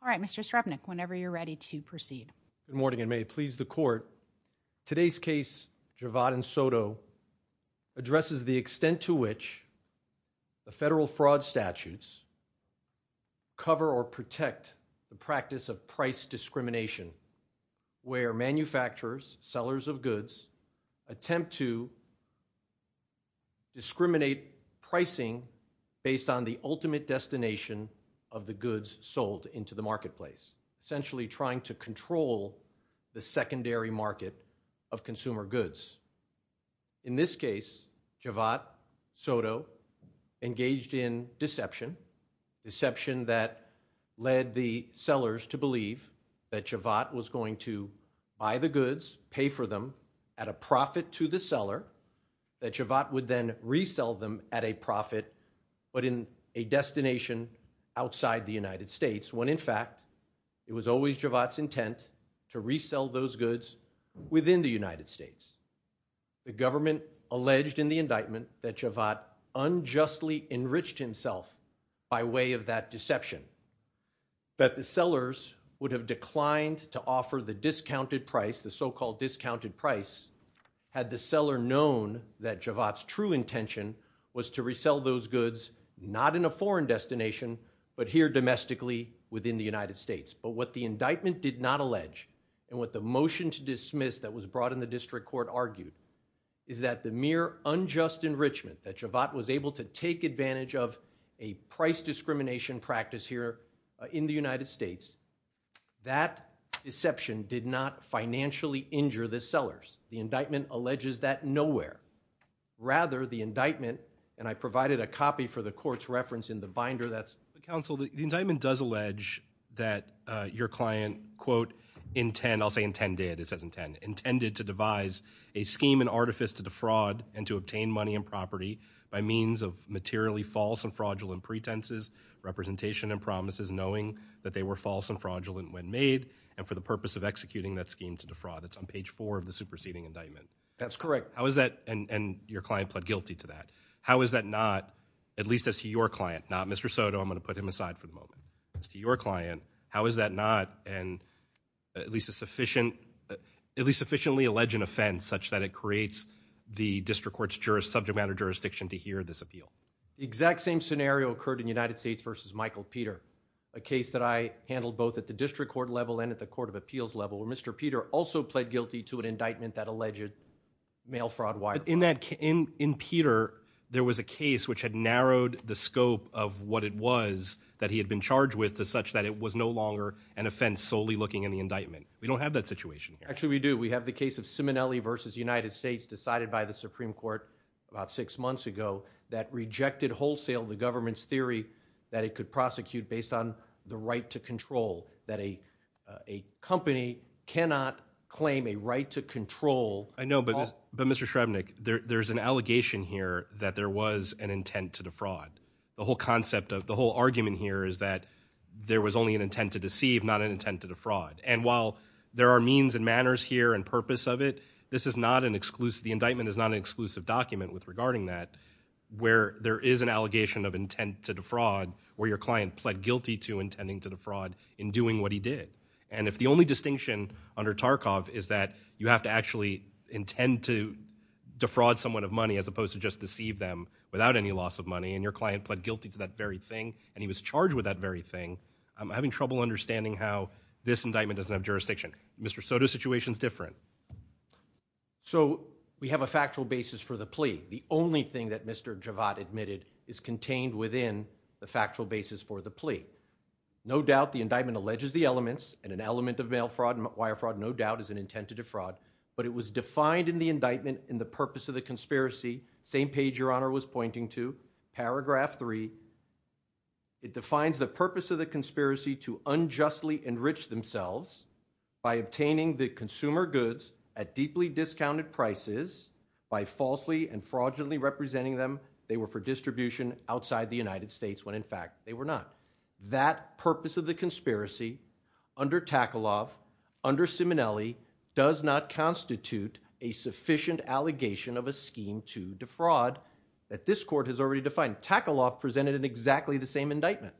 All right, Mr. Srebnick, whenever you're ready to proceed. Good morning, and may it please the Court, today's case, Javad and Soto, addresses the where manufacturers, sellers of goods, attempt to discriminate pricing based on the ultimate destination of the goods sold into the marketplace, essentially trying to control the secondary market of consumer goods. In this case, Javad, Soto engaged in deception, deception that led the sellers to believe that Javad was going to buy the goods, pay for them at a profit to the seller, that Javad would then resell them at a profit, but in a destination outside the United States, when in fact it was always Javad's intent to resell those goods within the United States. The government alleged in the indictment that Javad unjustly enriched himself by way of that deception, that the sellers would have declined to offer the discounted price, the so-called discounted price, had the seller known that Javad's true intention was to resell those goods, not in a foreign destination, but here domestically within the United States. But what the indictment did not allege, and what the motion to dismiss that was brought in the district court argued, is that the mere unjust enrichment that Javad was able to take advantage of a price discrimination practice here in the United States, that deception did not financially injure the sellers. The indictment alleges that nowhere. Rather, the indictment, and I provided a copy for the court's reference in the binder, that's... Counsel, the indictment does allege that your client, quote, intend, I'll say intended, it says intend, intended to devise a scheme and artifice to defraud and to obtain money and property by means of materially false and fraudulent pretenses, representation and promises knowing that they were false and fraudulent when made, and for the purpose of executing that scheme to defraud. It's on page four of the superseding indictment. That's correct. How is that, and your client pled guilty to that, how is that not, at least as to your client, not Mr. Soto, I'm going to put him aside for the moment, as to your client, how court's subject matter jurisdiction to hear this appeal? The exact same scenario occurred in United States v. Michael Peter, a case that I handled both at the district court level and at the court of appeals level where Mr. Peter also pled guilty to an indictment that alleged mail fraud, wire fraud. In Peter, there was a case which had narrowed the scope of what it was that he had been charged with to such that it was no longer an offense solely looking in the indictment. We don't have that situation here. Actually, we do. We have the case of Simonelli v. United States decided by the Supreme Court about six months ago that rejected wholesale the government's theory that it could prosecute based on the right to control, that a company cannot claim a right to control. I know, but Mr. Shrevenick, there's an allegation here that there was an intent to defraud. The whole concept of, the whole argument here is that there was only an intent to deceive, not an intent to defraud. While there are means and manners here and purpose of it, the indictment is not an exclusive document regarding that where there is an allegation of intent to defraud where your client pled guilty to intending to defraud in doing what he did. If the only distinction under Tarkov is that you have to actually intend to defraud someone of money as opposed to just deceive them without any loss of money and your client pled guilty to that very thing and he was charged with that very thing, I'm having trouble understanding how this indictment doesn't have jurisdiction. Mr. Soto's situation is different. So we have a factual basis for the plea. The only thing that Mr. Javad admitted is contained within the factual basis for the plea. No doubt the indictment alleges the elements and an element of mail fraud and wire fraud no doubt is an intent to defraud, but it was defined in the indictment in the purpose of the conspiracy, same page your honor was pointing to, paragraph three, it defines the purpose of the conspiracy to unjustly enrich themselves by obtaining the consumer goods at deeply discounted prices by falsely and fraudulently representing them they were for distribution outside the United States when in fact they were not. That purpose of the conspiracy under Takalov, under Simonelli does not constitute a sufficient allegation of a scheme to defraud that this court has already defined. Takalov presented an exactly the same indictment.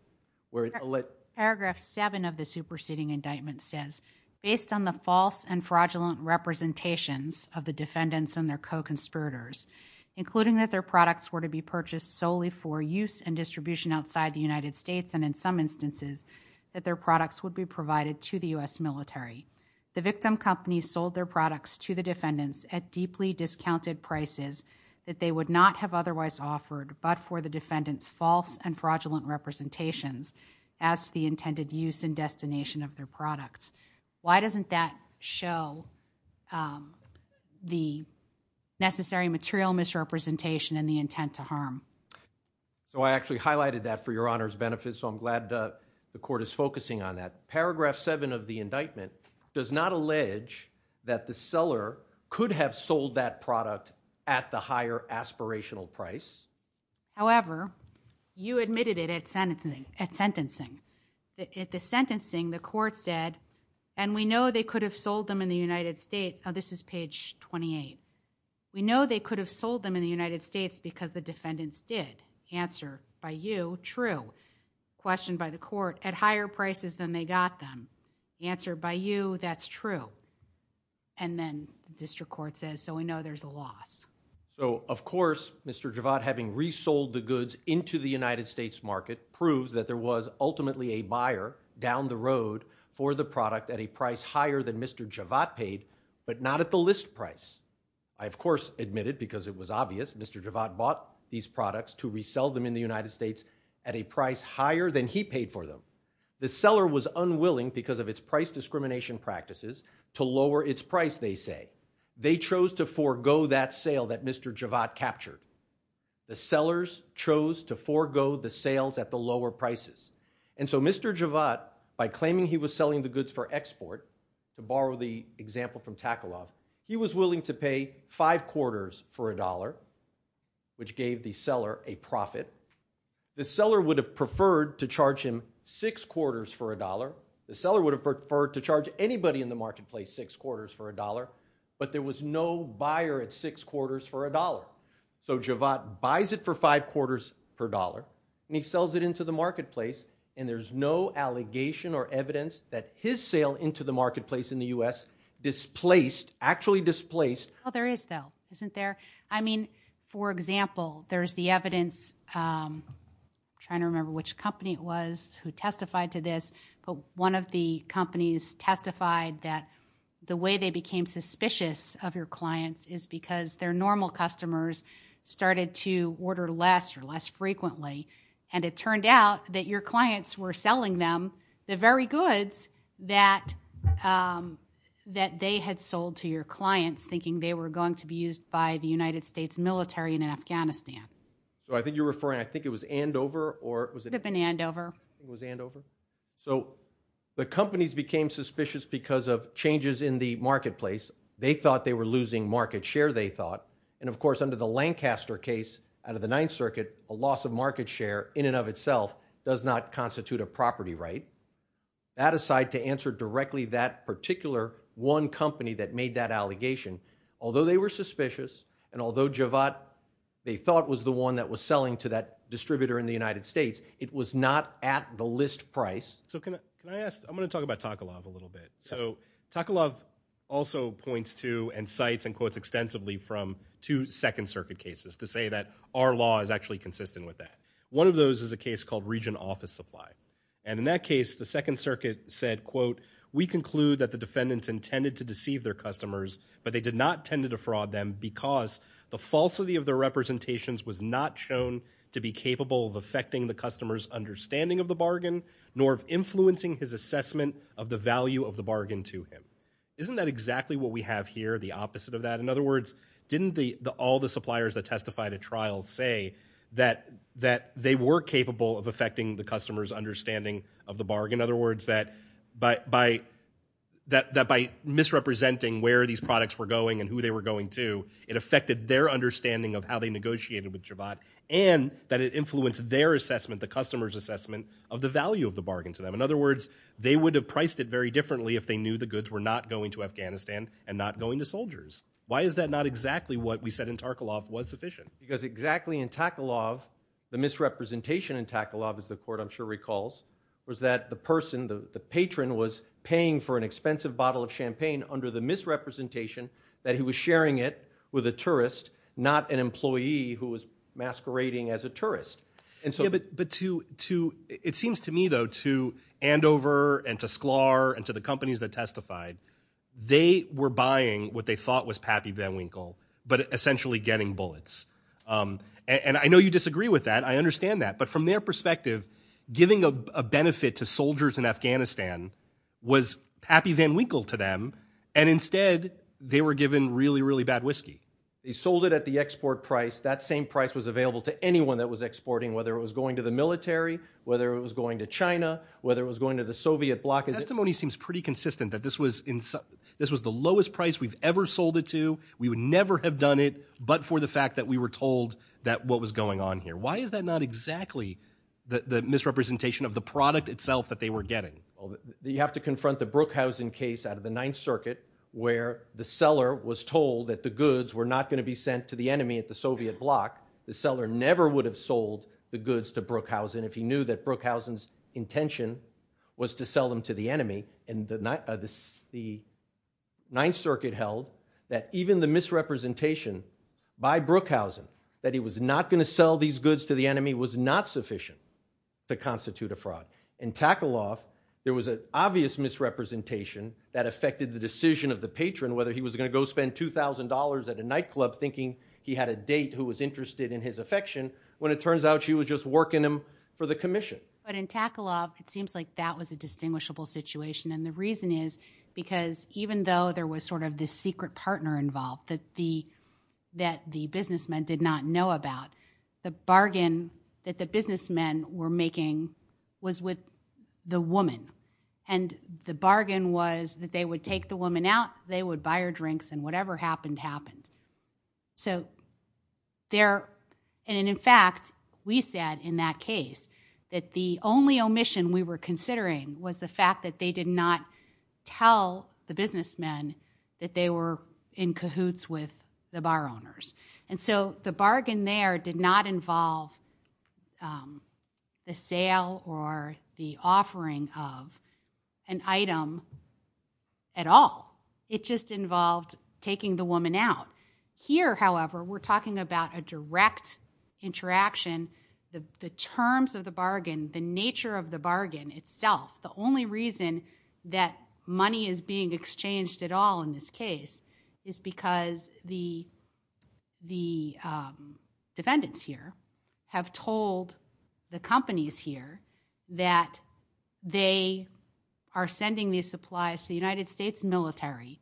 Paragraph seven of the superseding indictment says, based on the false and fraudulent representations of the defendants and their co-conspirators, including that their products were to be purchased solely for use and distribution outside the United States and in some instances that their products would be provided to the U.S. military, the victim company sold their products to the defendants at deeply discounted prices that they would not have otherwise offered but for the defendants false and fraudulent representations as the intended use and destination of their products. Why doesn't that show the necessary material misrepresentation and the intent to harm? So I actually highlighted that for your honor's benefit so I'm glad the court is focusing on that. Paragraph seven of the indictment does not allege that the seller could have sold that However, you admitted it at sentencing. At the sentencing, the court said, and we know they could have sold them in the United States. Now this is page 28. We know they could have sold them in the United States because the defendants did. Answer by you, true. Question by the court, at higher prices than they got them. Answer by you, that's true. And then the district court says, so we know there's a loss. So of course, Mr. Javad, having resold the goods into the United States market proves that there was ultimately a buyer down the road for the product at a price higher than Mr. Javad paid, but not at the list price. I, of course, admitted because it was obvious Mr. Javad bought these products to resell them in the United States at a price higher than he paid for them. The seller was unwilling because of its price discrimination practices to lower its price, they say. They chose to forego that sale that Mr. Javad captured. The sellers chose to forego the sales at the lower prices. And so Mr. Javad, by claiming he was selling the goods for export, to borrow the example from Takalov, he was willing to pay five quarters for a dollar, which gave the seller a profit. The seller would have preferred to charge him six quarters for a dollar. The seller would have preferred to charge anybody in the marketplace six quarters for a dollar, but there was no buyer at six quarters for a dollar. So Javad buys it for five quarters per dollar and he sells it into the marketplace and there's no allegation or evidence that his sale into the marketplace in the U.S. displaced, actually displaced. Well, there is though, isn't there? I mean, for example, there's the evidence, I'm trying to remember which company it was who testified to this, but one of the companies testified that the way they became suspicious of your clients is because their normal customers started to order less or less frequently. And it turned out that your clients were selling them the very goods that they had sold to your clients, thinking they were going to be used by the United States military in Afghanistan. So I think you're referring, I think it was Andover or was it? It could have been Andover. It was Andover. So the companies became suspicious because of changes in the marketplace. They thought they were losing market share, they thought, and of course under the Lancaster case out of the Ninth Circuit, a loss of market share in and of itself does not constitute a property right. That aside, to answer directly that particular one company that made that allegation, although they were suspicious and although Javad they thought was the one that was selling to that was not at the list price. So can I ask, I'm going to talk about Takalov a little bit. So Takalov also points to and cites and quotes extensively from two Second Circuit cases to say that our law is actually consistent with that. One of those is a case called region office supply. And in that case, the Second Circuit said, quote, we conclude that the defendants intended to deceive their customers, but they did not tend to defraud them because the falsity of their representations was not shown to be capable of affecting the customer's understanding of the bargain, nor of influencing his assessment of the value of the bargain to him. Isn't that exactly what we have here, the opposite of that? In other words, didn't all the suppliers that testified at trial say that they were capable of affecting the customer's understanding of the bargain? In other words, that by misrepresenting where these products were going and who they were of how they negotiated with Jabbat, and that it influenced their assessment, the customer's assessment of the value of the bargain to them. In other words, they would have priced it very differently if they knew the goods were not going to Afghanistan and not going to soldiers. Why is that not exactly what we said in Takalov was sufficient? Because exactly in Takalov, the misrepresentation in Takalov, as the court I'm sure recalls, was that the person, the patron was paying for an expensive bottle of champagne under the misrepresentation that he was sharing it with a tourist, not an employee who was masquerading as a tourist. It seems to me, though, to Andover and to Sklar and to the companies that testified, they were buying what they thought was Pappy Van Winkle, but essentially getting bullets. And I know you disagree with that. I understand that. But from their perspective, giving a benefit to soldiers in Afghanistan was Pappy Van Winkle to them. And instead, they were given really, really bad whiskey. They sold it at the export price. That same price was available to anyone that was exporting, whether it was going to the military, whether it was going to China, whether it was going to the Soviet bloc. Testimony seems pretty consistent that this was the lowest price we've ever sold it to. We would never have done it but for the fact that we were told that what was going on here. Why is that not exactly the misrepresentation of the product itself that they were getting? You have to confront the Brookhausen case out of the Ninth Circuit where the seller was told that the goods were not going to be sent to the enemy at the Soviet bloc. The seller never would have sold the goods to Brookhausen if he knew that Brookhausen's intention was to sell them to the enemy. And the Ninth Circuit held that even the misrepresentation by Brookhausen that he was not going to sell these goods to the enemy was not sufficient to constitute a fraud. In Takalov, there was an obvious misrepresentation that affected the decision of the patron whether he was going to go spend $2,000 at a nightclub thinking he had a date who was interested in his affection when it turns out she was just working him for the commission. But in Takalov, it seems like that was a distinguishable situation and the reason is because even though there was sort of this secret partner involved that the businessmen did not know about, the businessmen were in cahoots with the woman and the bargain was that they would take the woman out, they would buy her drinks and whatever happened, happened. So there, and in fact, we said in that case that the only omission we were considering was the fact that they did not tell the businessmen that they were in cahoots with the bar owners. And so the bargain there did not involve the sale or the offering of an item at all. It just involved taking the woman out. Here, however, we're talking about a direct interaction. The terms of the bargain, the nature of the bargain itself, the only reason that money is being exchanged at all in this case is because the defendants here have told the companies here that they are sending these supplies to the United States military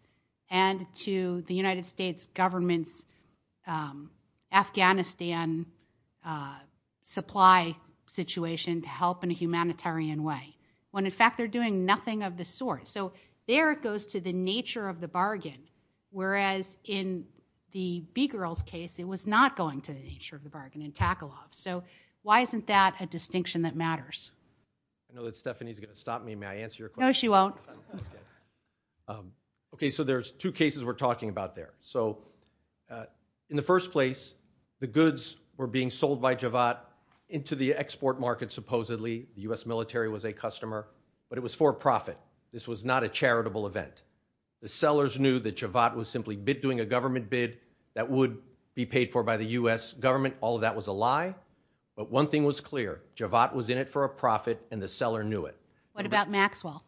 and to the United States government's Afghanistan supply situation to help in a humanitarian way. When in fact, they're doing nothing of the sort. So there it goes to the nature of the bargain, whereas in the B-Girls case, it was not going to the nature of the bargain in tackle-offs. So why isn't that a distinction that matters? I know that Stephanie's going to stop me. May I answer your question? No, she won't. Okay, so there's two cases we're talking about there. So in the first place, the goods were being sold by Javad into the export market, supposedly. The U.S. military was a customer, but it was for profit. This was not a charitable event. The sellers knew that Javad was simply doing a government bid that would be paid for by the U.S. government. All of that was a lie. But one thing was clear, Javad was in it for a profit and the seller knew it. What about Maxwell?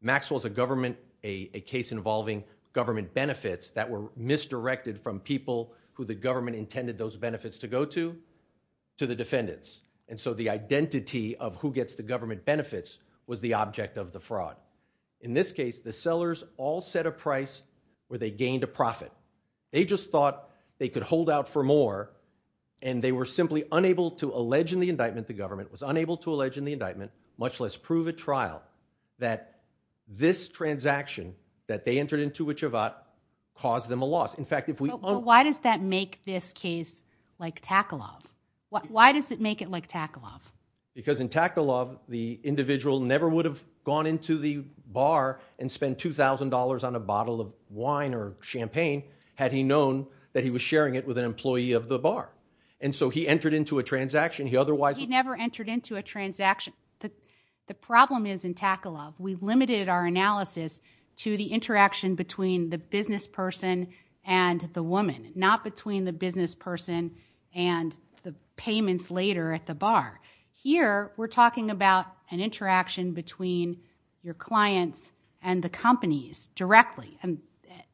Maxwell's a government, a case involving government benefits that were misdirected from people who the government intended those benefits to go to, to the defendants. And so the identity of who gets the government benefits was the object of the fraud. In this case, the sellers all set a price where they gained a profit. They just thought they could hold out for more and they were simply unable to allege in the indictment, the government was unable to allege in the indictment, much less prove at trial, that this transaction that they entered into with Javad caused them a loss. In fact, if we- But why does that make this case like tackle-off? Why does it make it like tackle-off? Because in tackle-off, the individual never would have gone into the bar and spent $2,000 on a bottle of wine or champagne had he known that he was sharing it with an employee of the bar. And so he entered into a transaction, he otherwise- He never entered into a transaction. The problem is in tackle-off, we limited our analysis to the interaction between the business person and the woman, not between the business person and the payments later at the bar. Here, we're talking about an interaction between your clients and the companies directly.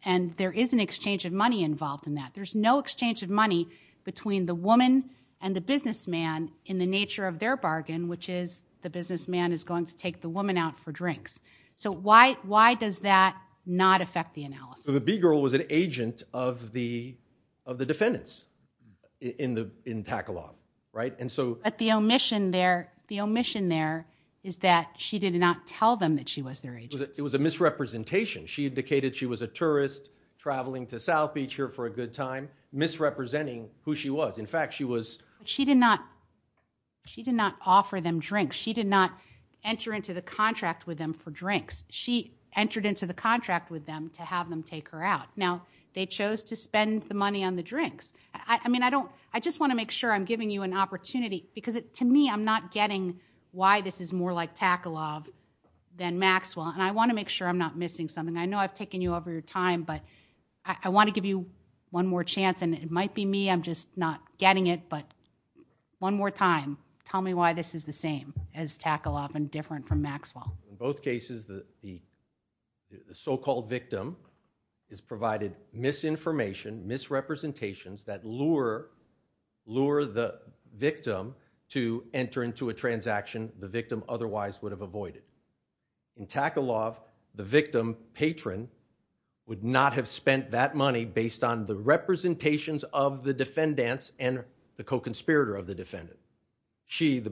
And there is an exchange of money involved in that. There's no exchange of money between the woman and the businessman in the nature of their bargain, which is the businessman is going to take the woman out for drinks. So why does that not affect the analysis? So the B-girl was an agent of the defendants in tackle-off, right? And so- But the omission there, the omission there is that she did not tell them that she was their agent. It was a misrepresentation. She indicated she was a tourist traveling to South Beach here for a good time, misrepresenting who she was. In fact, she was- She did not offer them drinks. She did not enter into the contract with them for drinks. She entered into the contract with them to have them take her out. Now, they chose to spend the money on the drinks. I mean, I don't- I just want to make sure I'm giving you an opportunity because, to me, I'm not getting why this is more like tackle-off than Maxwell, and I want to make sure I'm not missing something. I know I've taken you over your time, but I want to give you one more chance, and it might be me. I'm just not getting it, but one more time, tell me why this is the same as tackle-off and different from Maxwell. In both cases, the so-called victim has provided misinformation, misrepresentations that lure the victim to enter into a transaction the victim otherwise would have avoided. In tackle-off, the victim patron would not have spent that money based on the representations of the defendants and the co-conspirator of the defendant. She, the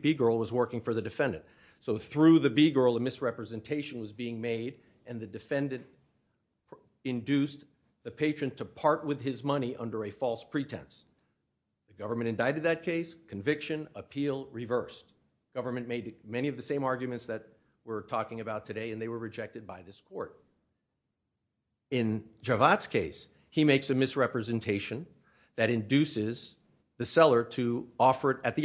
B-girl, was working for the defendant. So, through the B-girl, a misrepresentation was being made, and the defendant induced the patron to part with his money under a false pretense. The government indicted that case. Conviction. Appeal. Reversed. Government made many of the same arguments that we're talking about today, and they were rejected by this court. In Javad's case, he makes a misrepresentation that induces the seller to offer it at the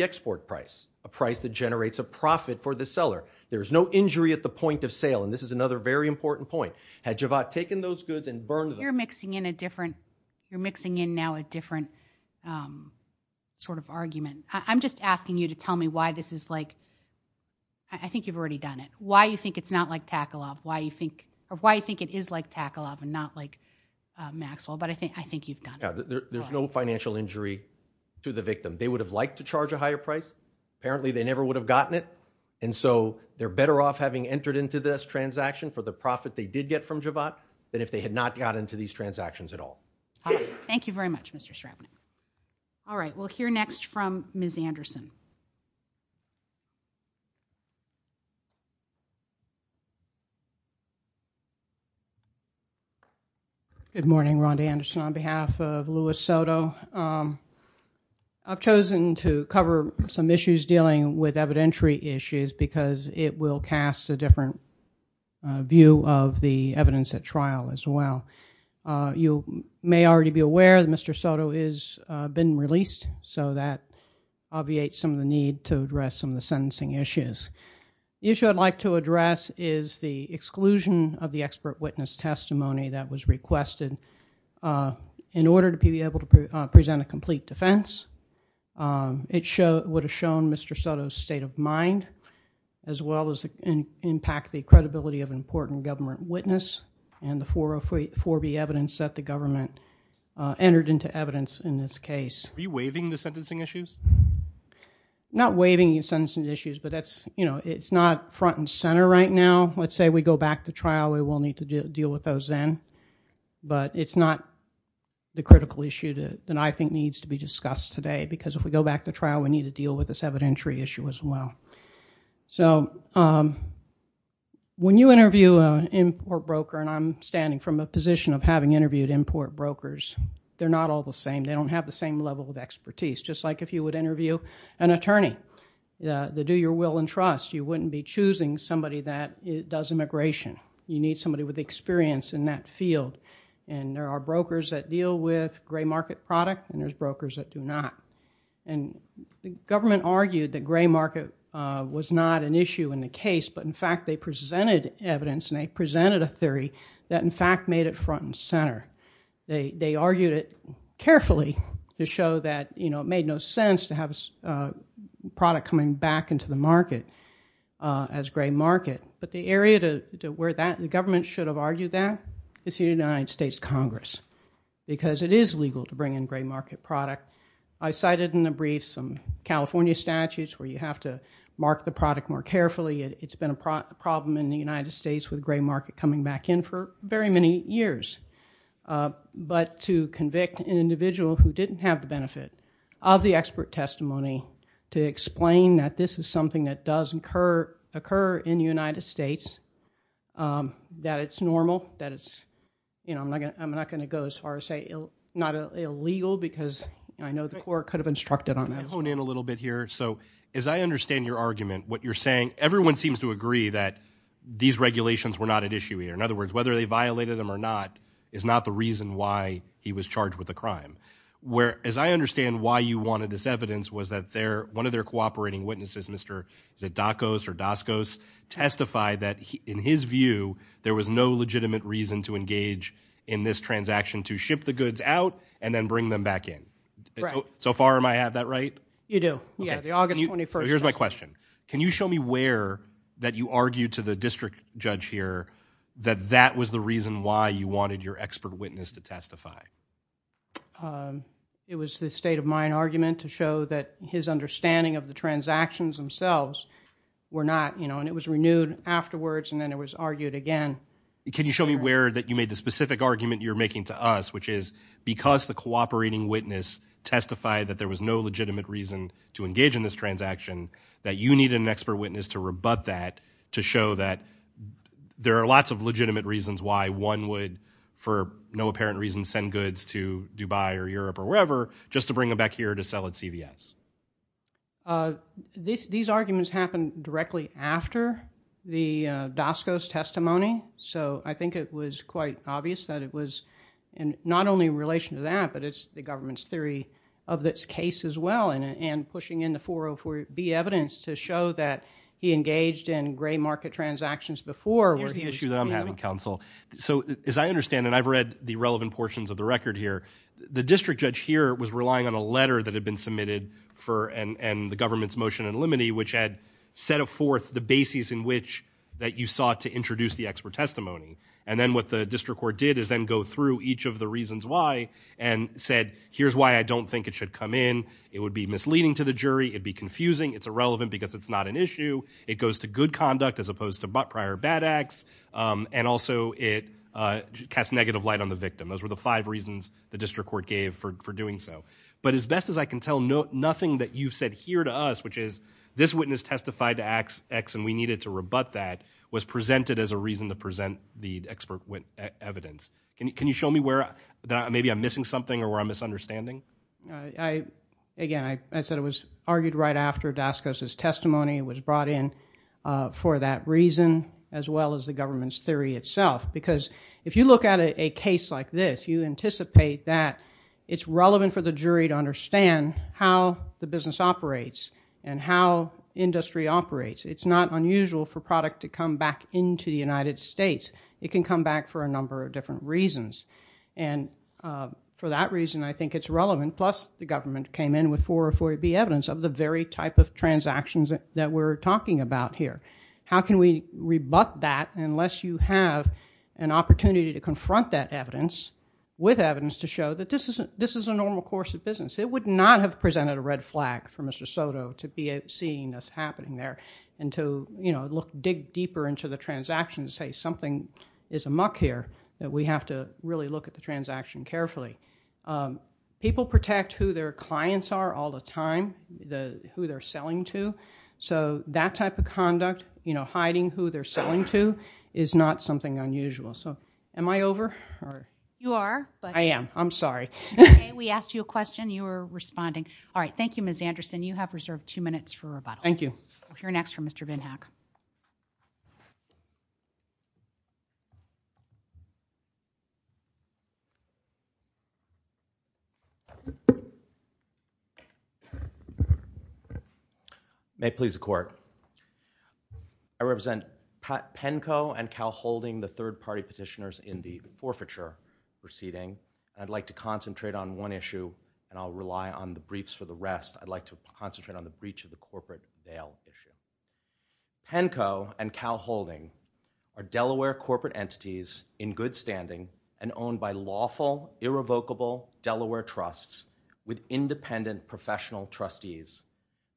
There's no injury at the point of sale, and this is another very important point. Had Javad taken those goods and burned them? You're mixing in a different, you're mixing in now a different sort of argument. I'm just asking you to tell me why this is like, I think you've already done it, why you think it's not like tackle-off, why you think, or why you think it is like tackle-off and not like Maxwell, but I think you've done it. There's no financial injury to the victim. They would have liked to charge a higher price. Apparently, they never would have gotten it, and so they're better off having entered into this transaction for the profit they did get from Javad than if they had not got into these transactions at all. Thank you very much, Mr. Straubner. All right. We'll hear next from Ms. Anderson. Good morning. Rhonda Anderson on behalf of Louis Soto. I've chosen to cover some issues dealing with evidentiary issues because it will cast a different view of the evidence at trial as well. You may already be aware that Mr. Soto has been released, so that obviates some of the need to address some of the sentencing issues. The issue I'd like to address is the exclusion of the expert witness testimony that was requested in order to be able to present a complete defense. It would have shown Mr. Soto's state of mind as well as impact the credibility of an important government witness and the 404B evidence that the government entered into evidence in this case. Are you waiving the sentencing issues? Not waiving the sentencing issues, but it's not front and center right now. Let's say we go back to trial, we will need to deal with those then, but it's not the critical issue that I think needs to be discussed today because if we go back to trial, we need to deal with this evidentiary issue as well. When you interview an import broker, and I'm standing from a position of having interviewed import brokers, they're not all the same. They don't have the same level of expertise, just like if you would interview an attorney. They do your will and trust. You wouldn't be choosing somebody that does immigration. You need somebody with experience in that field. There are brokers that deal with gray market product and there's brokers that do not. The government argued that gray market was not an issue in the case, but in fact they presented evidence and they presented a theory that in fact made it front and center. They argued it carefully to show that it made no sense to have a product coming back into the market as gray market, but the area to where the government should have argued that is the United States Congress because it is legal to bring in gray market product. I cited in the brief some California statutes where you have to mark the product more carefully. It's been a problem in the United States with gray market coming back in for very many years, but to convict an individual who didn't have the benefit of the expert testimony to explain that this is something that does occur in the United States, that it's normal, that it's... I'm not going to go as far as say not illegal because I know the court could have instructed on that. I want to hone in a little bit here. As I understand your argument, what you're saying, everyone seems to agree that these regulations were not an issue here. In other words, whether they violated them or not is not the reason why he was charged with a crime. As I understand why you wanted this evidence was that one of their cooperating witnesses, Mr. Dacos or Daskos, testified that in his view there was no legitimate reason to engage in this transaction to ship the goods out and then bring them back in. So far am I have that right? You do. Yeah, the August 21st. Here's my question. Can you show me where that you argued to the district judge here that that was the reason why you wanted your expert witness to testify? It was the state of mind argument to show that his understanding of the transactions themselves were not... It was renewed afterwards and then it was argued again. Can you show me where that you made the specific argument you're making to us, which is because the cooperating witness testified that there was no legitimate reason to engage in this transaction that you needed an expert witness to rebut that to show that there are lots of legitimate reasons why one would, for no apparent reason, send goods to Dubai or Europe or wherever just to bring them back here to sell at CVS? These arguments happened directly after the Daskos testimony, so I think it was quite obvious that it was not only in relation to that, but it's the government's theory of this case as well and pushing in the 404B evidence to show that he engaged in gray market transactions before... Here's the issue that I'm having, counsel. So as I understand, and I've read the relevant portions of the record here, the district judge here was relying on a letter that had been submitted and the government's motion in limine, which had set forth the basis in which that you sought to introduce the expert testimony. And then what the district court did is then go through each of the reasons why and said, here's why I don't think it should come in. It would be misleading to the jury, it'd be confusing, it's irrelevant because it's not an issue, it goes to good conduct as opposed to prior bad acts, and also it casts negative light on the victim. Those were the five reasons the district court gave for doing so. But as best as I can tell, nothing that you've said here to us, which is this witness testified to X and we needed to rebut that, was presented as a reason to present the expert evidence. Can you show me where, maybe I'm missing something or where I'm misunderstanding? Again, I said it was argued right after Daskos' testimony was brought in for that reason, as well as the government's theory itself. Because if you look at a case like this, you anticipate that it's relevant for the jury to understand how the business operates and how industry operates. It's not unusual for product to come back into the United States. It can come back for a number of different reasons. And for that reason, I think it's relevant, plus the government came in with 440B evidence of the very type of transactions that we're talking about here. How can we rebut that unless you have an opportunity to confront that evidence with evidence to This is a normal course of business. It would not have presented a red flag for Mr. Soto to be seeing this happening there and to, you know, look, dig deeper into the transaction and say something is amok here that we have to really look at the transaction carefully. People protect who their clients are all the time, who they're selling to. So that type of conduct, you know, hiding who they're selling to is not something unusual. So am I over? You are. I am. I'm sorry. Okay. We asked you a question. You were responding. All right. Thank you, Ms. Anderson. You have reserved two minutes for rebuttal. Thank you. We'll hear next from Mr. Binhack. May it please the court, I represent Penco and Cal Holding, the third party petitioners in the forfeiture proceeding. I'd like to concentrate on one issue and I'll rely on the briefs for the rest. I'd like to concentrate on the breach of the corporate bail issue. Penco and Cal Holding are Delaware corporate entities in good standing and owned by lawful, irrevocable Delaware trusts with independent professional trustees.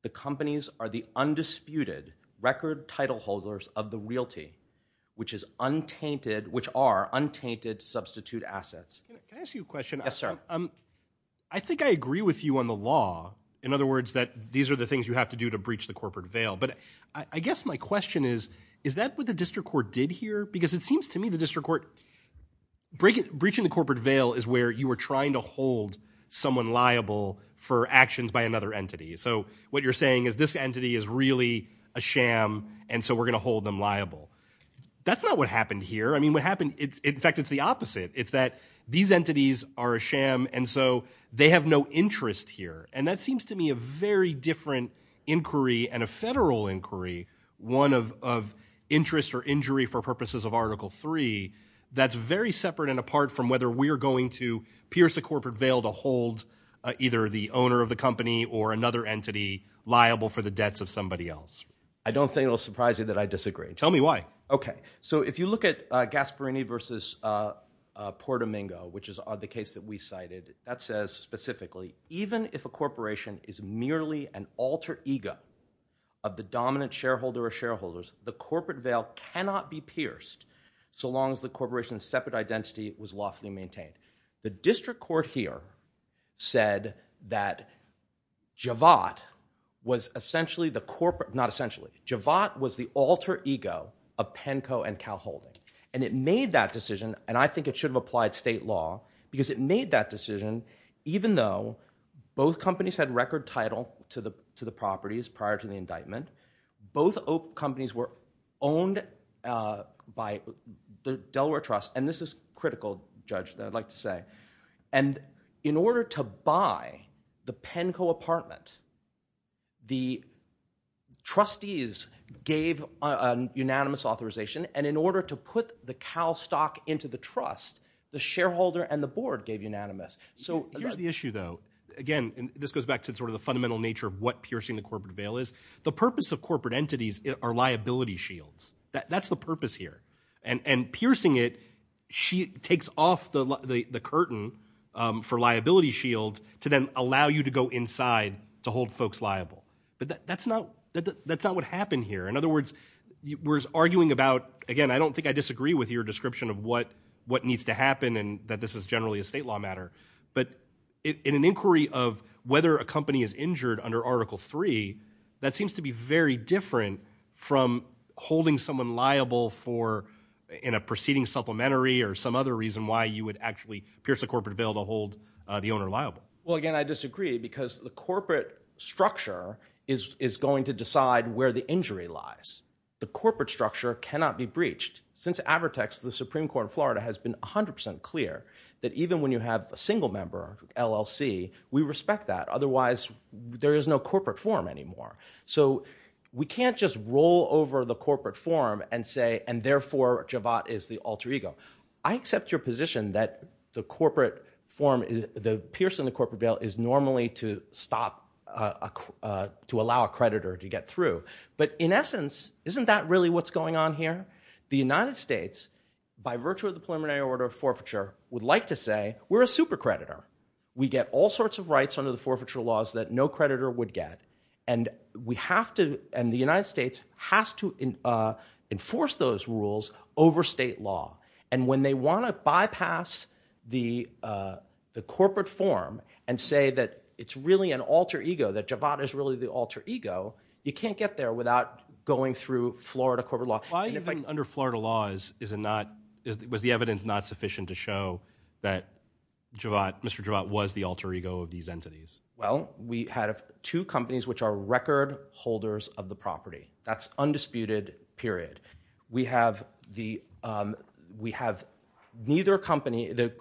The companies are the undisputed record title holders of the realty, which is untainted, which are untainted substitute assets. Can I ask you a question? Yes, sir. I think I agree with you on the law. In other words, that these are the things you have to do to breach the corporate bail. But I guess my question is, is that what the district court did here? Because it seems to me the district court breaching the corporate bail is where you were trying to hold someone liable for actions by another entity. So what you're saying is this entity is really a sham and so we're going to hold them liable. That's not what happened here. In fact, it's the opposite. It's that these entities are a sham and so they have no interest here. And that seems to me a very different inquiry and a federal inquiry, one of interest or injury for purposes of Article III, that's very separate and apart from whether we're going to pierce the corporate bail to hold either the owner of the company or another entity liable for the debts of somebody else. I don't think it'll surprise you that I disagree. Tell me why. Okay. So if you look at Gasparini versus Portomingo, which is the case that we cited, that says specifically, even if a corporation is merely an alter ego of the dominant shareholder or shareholders, the corporate bail cannot be pierced so long as the corporation's separate identity was lawfully maintained. The district court here said that Javad was essentially the corporate, not essentially, the cowholder. And it made that decision, and I think it should have applied state law, because it made that decision even though both companies had record title to the properties prior to the indictment. Both companies were owned by the Delaware Trust. And this is critical, Judge, that I'd like to say. And in order to buy the Penco apartment, the trustees gave unanimous authorization. And in order to put the cow stock into the trust, the shareholder and the board gave unanimous. So here's the issue, though. Again, and this goes back to sort of the fundamental nature of what piercing the corporate bail is. The purpose of corporate entities are liability shields. That's the purpose here. And piercing it takes off the curtain for liability shield to then allow you to go inside to hold folks liable. But that's not what happened here. In other words, we're arguing about, again, I don't think I disagree with your description of what needs to happen and that this is generally a state law matter. But in an inquiry of whether a company is injured under Article III, that seems to be very different from holding someone liable in a preceding supplementary or some other reason why you would actually pierce a corporate bail to hold the owner liable. Well, again, I disagree, because the corporate structure is going to decide where the injury lies. The corporate structure cannot be breached. Since Avertex, the Supreme Court of Florida has been 100% clear that even when you have a single member, LLC, we respect that. Otherwise, there is no corporate form anymore. So we can't just roll over the corporate form and say, and therefore, Javad is the alter ego. I accept your position that the corporate form, the piercing the corporate bail is normally to stop, to allow a creditor to get through. But in essence, isn't that really what's going on here? The United States, by virtue of the preliminary order of forfeiture, would like to say, we're a super creditor. We get all sorts of rights under the forfeiture laws that no creditor would get. And we have to, and the United States has to enforce those rules over state law. And when they want to bypass the corporate form and say that it's really an alter ego, that Javad is really the alter ego, you can't get there without going through Florida corporate law. Why even under Florida laws was the evidence not sufficient to show that Mr. Javad was the alter ego of these entities? Well, we had two companies which are record holders of the property. That's undisputed, period. We have neither company, the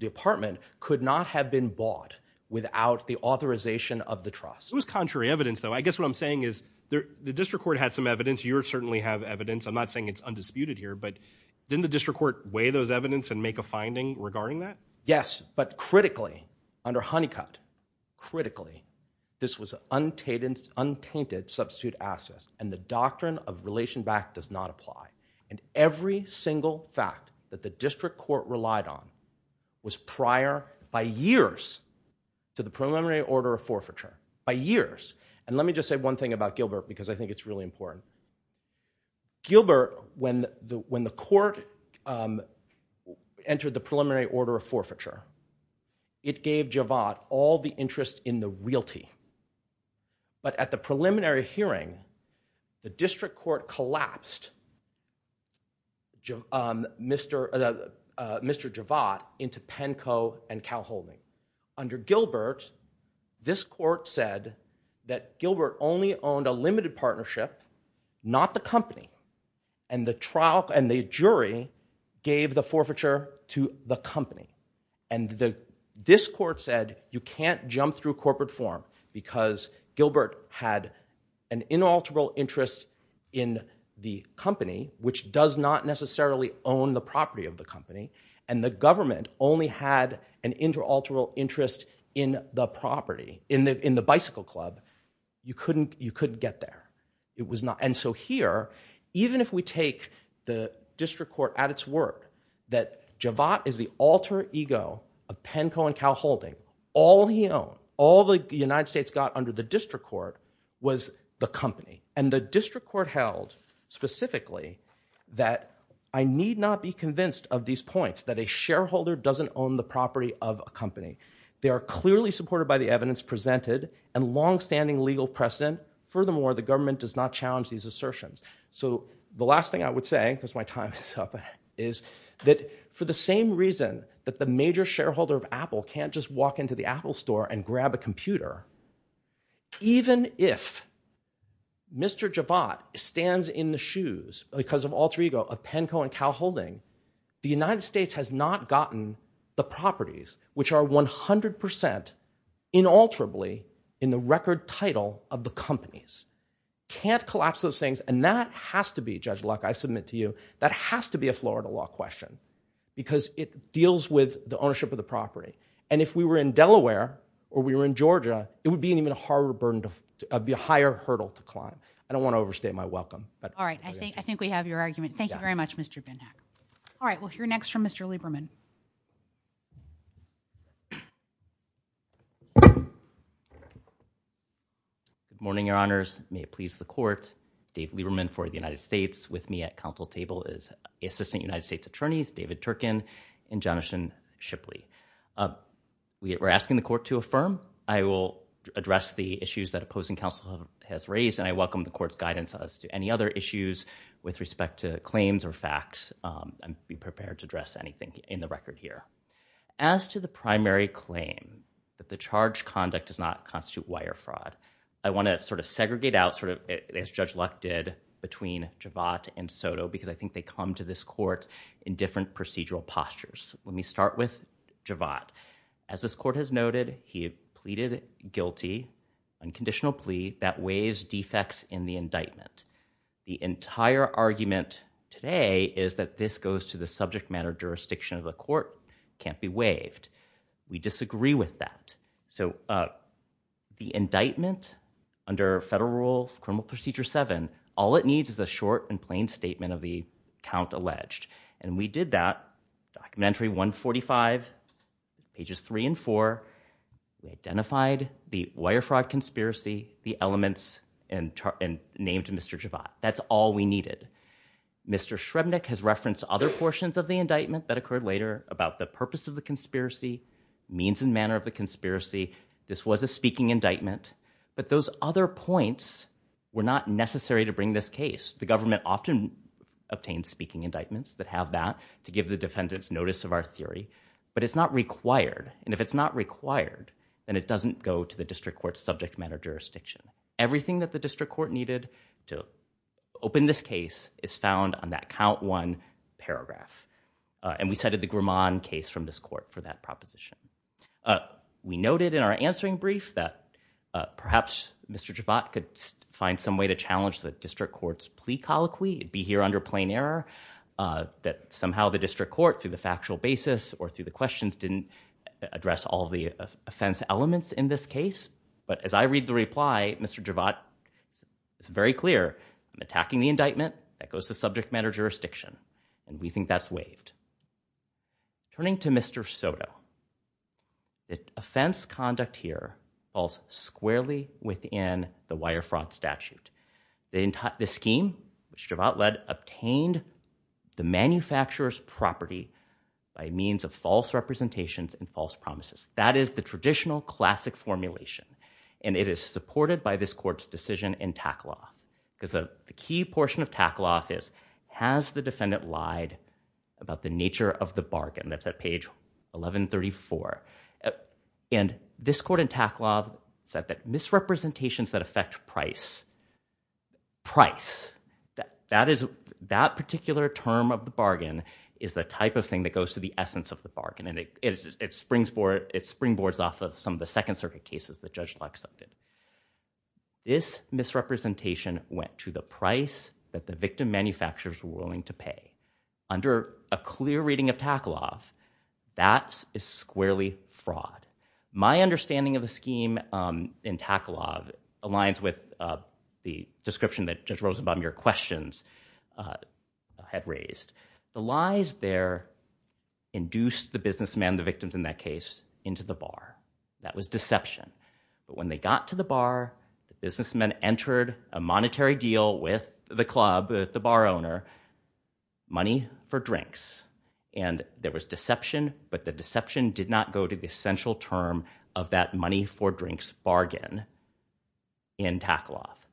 department could not have been bought without the authorization of the trust. It was contrary evidence, though. I guess what I'm saying is the district court had some evidence. You certainly have evidence. I'm not saying it's undisputed here, but didn't the district court weigh those evidence and make a finding regarding that? Yes, but critically, under Honeycutt, critically, this was untainted substitute assets. And the doctrine of relation back does not apply. And every single fact that the district court relied on was prior by years to the preliminary order of forfeiture, by years. And let me just say one thing about Gilbert, because I think it's really important. Gilbert, when the court entered the preliminary order of forfeiture, it gave Javad all the interest in the realty. But at the preliminary hearing, the district court collapsed Mr. Javad into Penco and Calhoun. Under Gilbert, this court said that Gilbert only owned a limited partnership, not the company. And the jury gave the forfeiture to the company. And this court said, you can't jump through corporate form, because Gilbert had an inalterable interest in the company, which does not necessarily own the property of the company. And the government only had an interalterable interest in the property, in the bicycle club. You couldn't get there. And so here, even if we take the district court at its word that Javad is the alter ego of Penco and Calhoun, all he owned, all the United States got under the district court was the company. And the district court held specifically that I need not be convinced of these points, that a shareholder doesn't own the property of a company. They are clearly supported by the evidence presented and longstanding legal precedent. Furthermore, the government does not challenge these assertions. So the last thing I would say, because my time is up, is that for the same reason that the major shareholder of Apple can't just walk into the Apple store and grab a computer, even if Mr. Javad stands in the shoes, because of alter ego, of Penco and Calhoun, the United States has not gotten the properties, which are 100% inalterably in the record title of the companies. You can't collapse those things. And that has to be, Judge Luck, I submit to you, that has to be a Florida law question, because it deals with the ownership of the property. And if we were in Delaware or we were in Georgia, it would be an even harder burden, a higher hurdle to climb. I don't want to overstate my welcome. All right. I think we have your argument. Thank you very much, Mr. Binhack. All right. We'll hear next from Mr. Lieberman. Good morning, Your Honors. May it please the Court. Dave Lieberman for the United States. With me at counsel table is the Assistant United States Attorneys, David Turkin and Jonathan Shipley. We're asking the Court to affirm. I will address the issues that opposing counsel has raised, and I welcome the Court's guidance as to any other issues with respect to claims or facts. I'm prepared to address anything in the record here. As to the primary claim, that the charge conduct does not constitute wire fraud, I want to sort of segregate out, as Judge Luck did, between Javad and Soto, because I think they come to this Court in different procedural postures. Let me start with Javad. As this Court has noted, he pleaded guilty, unconditional plea, that waives defects in the indictment. The entire argument today is that this goes to the subject matter jurisdiction of the Court. It can't be waived. We disagree with that. So the indictment under Federal Rule of Criminal Procedure 7, all it needs is a short and plain statement of the count alleged. And we did that, Documentary 145, pages 3 and 4, identified the wire fraud conspiracy, the elements, and named Mr. Javad. That's all we needed. Mr. Shrebnik has referenced other portions of the indictment that occurred later about the purpose of the conspiracy, means and manner of the conspiracy. This was a speaking indictment. But those other points were not necessary to bring this case. The government often obtains speaking indictments that have that to give the defendants notice of our theory. But it's not required. And if it's not required, then it doesn't go to the District Court's subject matter jurisdiction. Everything that the District Court needed to open this case is found on that count 1 paragraph. And we cited the Grumman case from this Court for that proposition. We noted in our answering brief that perhaps Mr. Javad could find some way to challenge the District Court's plea colloquy, be here under plain error, that somehow the District Court, through the factual basis or through the questions, didn't address all the offense elements in this case. But as I read the reply, Mr. Javad is very clear, I'm attacking the indictment, that goes to subject matter jurisdiction. And we think that's waived. Turning to Mr. Soto, the offense conduct here falls squarely within the wire fraud statute. The scheme, which Javad led, obtained the manufacturer's property by means of false representations and false promises. That is the traditional, classic formulation. And it is supported by this Court's decision in Tackle Off. Because the key portion of Tackle Off is, has the defendant lied about the nature of the bargain? That's at page 1134. And this Court in Tackle Off said that misrepresentations that affect price, price, that particular term of the bargain is the type of thing that goes to the essence of the bargain. It springboards off of some of the Second Circuit cases that Judge Locke cited. This misrepresentation went to the price that the victim manufacturers were willing to pay. Under a clear reading of Tackle Off, that is squarely fraud. My understanding of the scheme in Tackle Off aligns with the description that Judge Rosenbaum, your questions, had raised. The lies there induced the businessman, the victims in that case, into the bar. That was deception. But when they got to the bar, the businessman entered a monetary deal with the club, the money for drinks. And there was deception, but the deception did not go to the essential term of that money for drinks bargain in Tackle Off.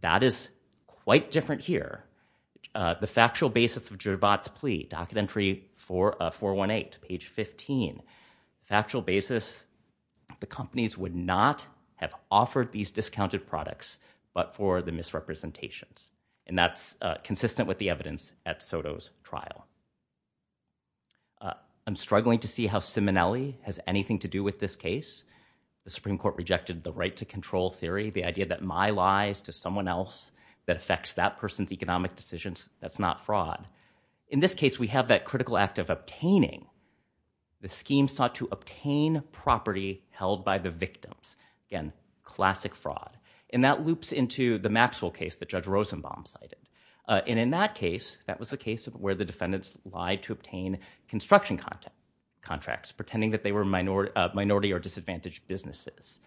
That is quite different here. The factual basis of Gervaud's plea, Documentary 418, page 15, factual basis, the companies would not have offered these discounted products but for the misrepresentations. And that's consistent with the evidence at Soto's trial. I'm struggling to see how Simonelli has anything to do with this case. The Supreme Court rejected the right to control theory, the idea that my lies to someone else that affects that person's economic decisions, that's not fraud. In this case, we have that critical act of obtaining. The scheme sought to obtain property held by the victims. Again, classic fraud. And that loops into the Maxwell case that Judge Rosenbaum cited. And in that case, that was the case where the defendants lied to obtain construction contracts, pretending that they were minority or disadvantaged businesses.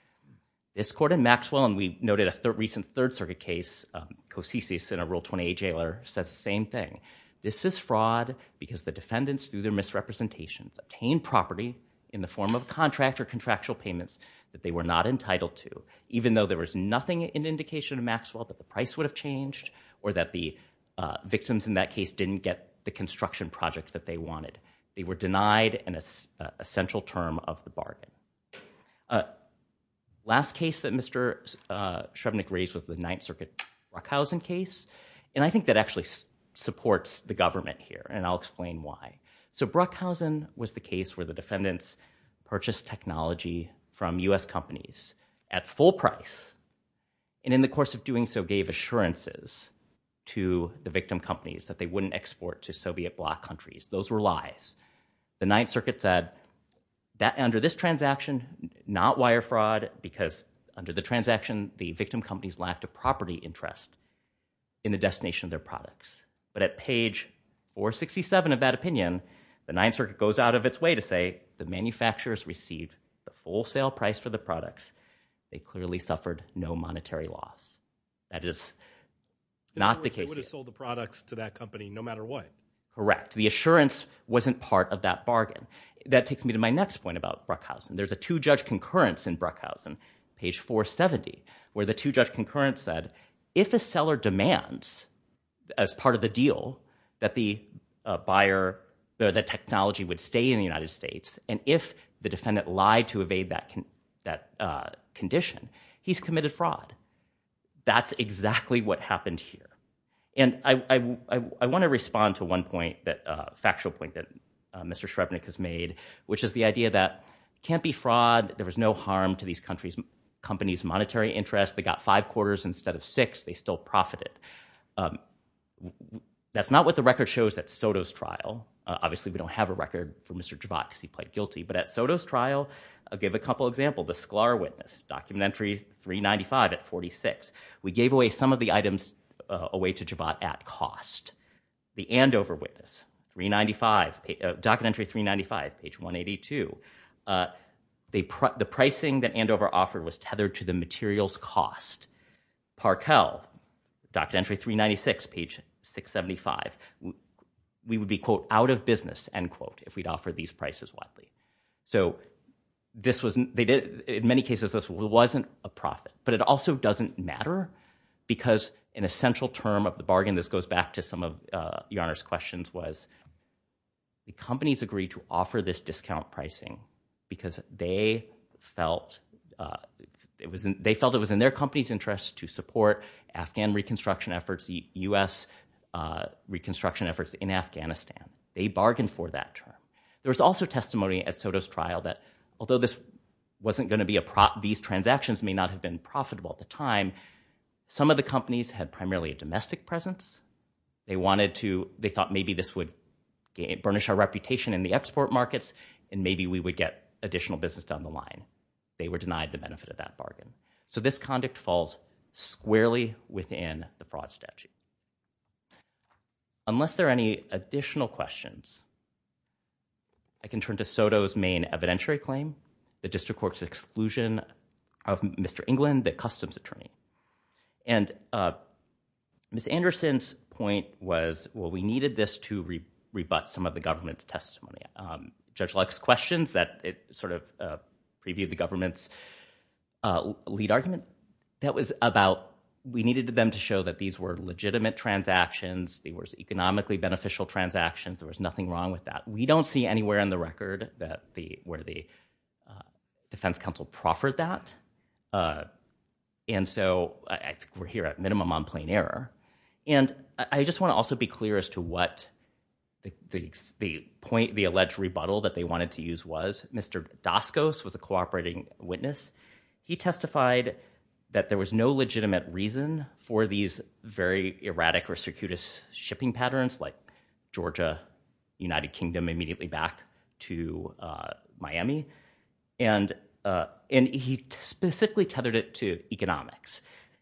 This court in Maxwell, and we noted a recent Third Circuit case, Kosice in a Rule 28 jailer says the same thing. This is fraud because the defendants, through their misrepresentations, obtained property in the form of contract or contractual payments that they were not entitled to, even though there was nothing in indication in Maxwell that the price would have changed or that the victims in that case didn't get the construction project that they wanted. They were denied an essential term of the bargain. Last case that Mr. Shrevenick raised was the Ninth Circuit Bruckhausen case. And I think that actually supports the government here, and I'll explain why. So Bruckhausen was the case where the defendants purchased technology from U.S. companies at full price, and in the course of doing so, gave assurances to the victim companies that they wouldn't export to Soviet bloc countries. Those were lies. The Ninth Circuit said, under this transaction, not wire fraud, because under the transaction, the victim companies lacked a property interest in the destination of their products. But at page 467 of that opinion, the Ninth Circuit goes out of its way to say the manufacturers received the full sale price for the products, they clearly suffered no monetary loss. That is not the case. They would have sold the products to that company no matter what. Correct. The assurance wasn't part of that bargain. That takes me to my next point about Bruckhausen. There's a two-judge concurrence in Bruckhausen, page 470, where the two-judge concurrence said, if a seller demands, as part of the deal, that the buyer, that technology would stay in the United States, and if the defendant lied to evade that condition, he's committed fraud. That's exactly what happened here. And I want to respond to one point, a factual point, that Mr. Shrevenick has made, which is the idea that it can't be fraud, there was no harm to these companies' monetary interest, they got five quarters instead of six, they still profited. That's not what the record shows at Soto's trial. Obviously, we don't have a record for Mr. Jabbot, because he pled guilty. But at Soto's trial, I'll give a couple examples. The Sklar witness, Document Entry 395 at 46. We gave away some of the items away to Jabbot at cost. The Andover witness, Document Entry 395, page 182. The pricing that Andover offered was tethered to the materials cost. Parkell, Document Entry 396, page 675. We would be, quote, out of business, end quote, if we'd offer these prices widely. So this was, in many cases, this wasn't a profit. But it also doesn't matter, because an essential term of the bargain, this goes back to some of Your Honor's questions, was the companies agreed to offer this discount pricing because they felt it was in their company's interest to support Afghan reconstruction efforts, U.S. reconstruction efforts in Afghanistan. They bargained for that term. There was also testimony at Soto's trial that, although this wasn't going to be a, these transactions may not have been profitable at the time, some of the companies had primarily a domestic presence. They wanted to, they thought maybe this would burnish our reputation in the export markets, and maybe we would get additional business down the line. They were denied the benefit of that bargain. So this conduct falls squarely within the fraud statute. Unless there are any additional questions, I can turn to Soto's main evidentiary claim, the district court's exclusion of Mr. England, the customs attorney. And Ms. Anderson's point was, well, we needed this to rebut some of the government's testimony. Judge Luck's questions that sort of previewed the government's lead argument, that was about we needed them to show that these were legitimate transactions, they were economically beneficial transactions, there was nothing wrong with that. We don't see anywhere on the record that the, where the defense counsel proffered that. And so I think we're here at minimum on plain error. And I just want to also be clear as to what the point, the alleged rebuttal that they wanted to use was. Mr. Doskos was a cooperating witness. He testified that there was no legitimate reason for these very erratic or circuitous shipping patterns, like Georgia, United Kingdom, immediately back to Miami. And he specifically tethered it to economics.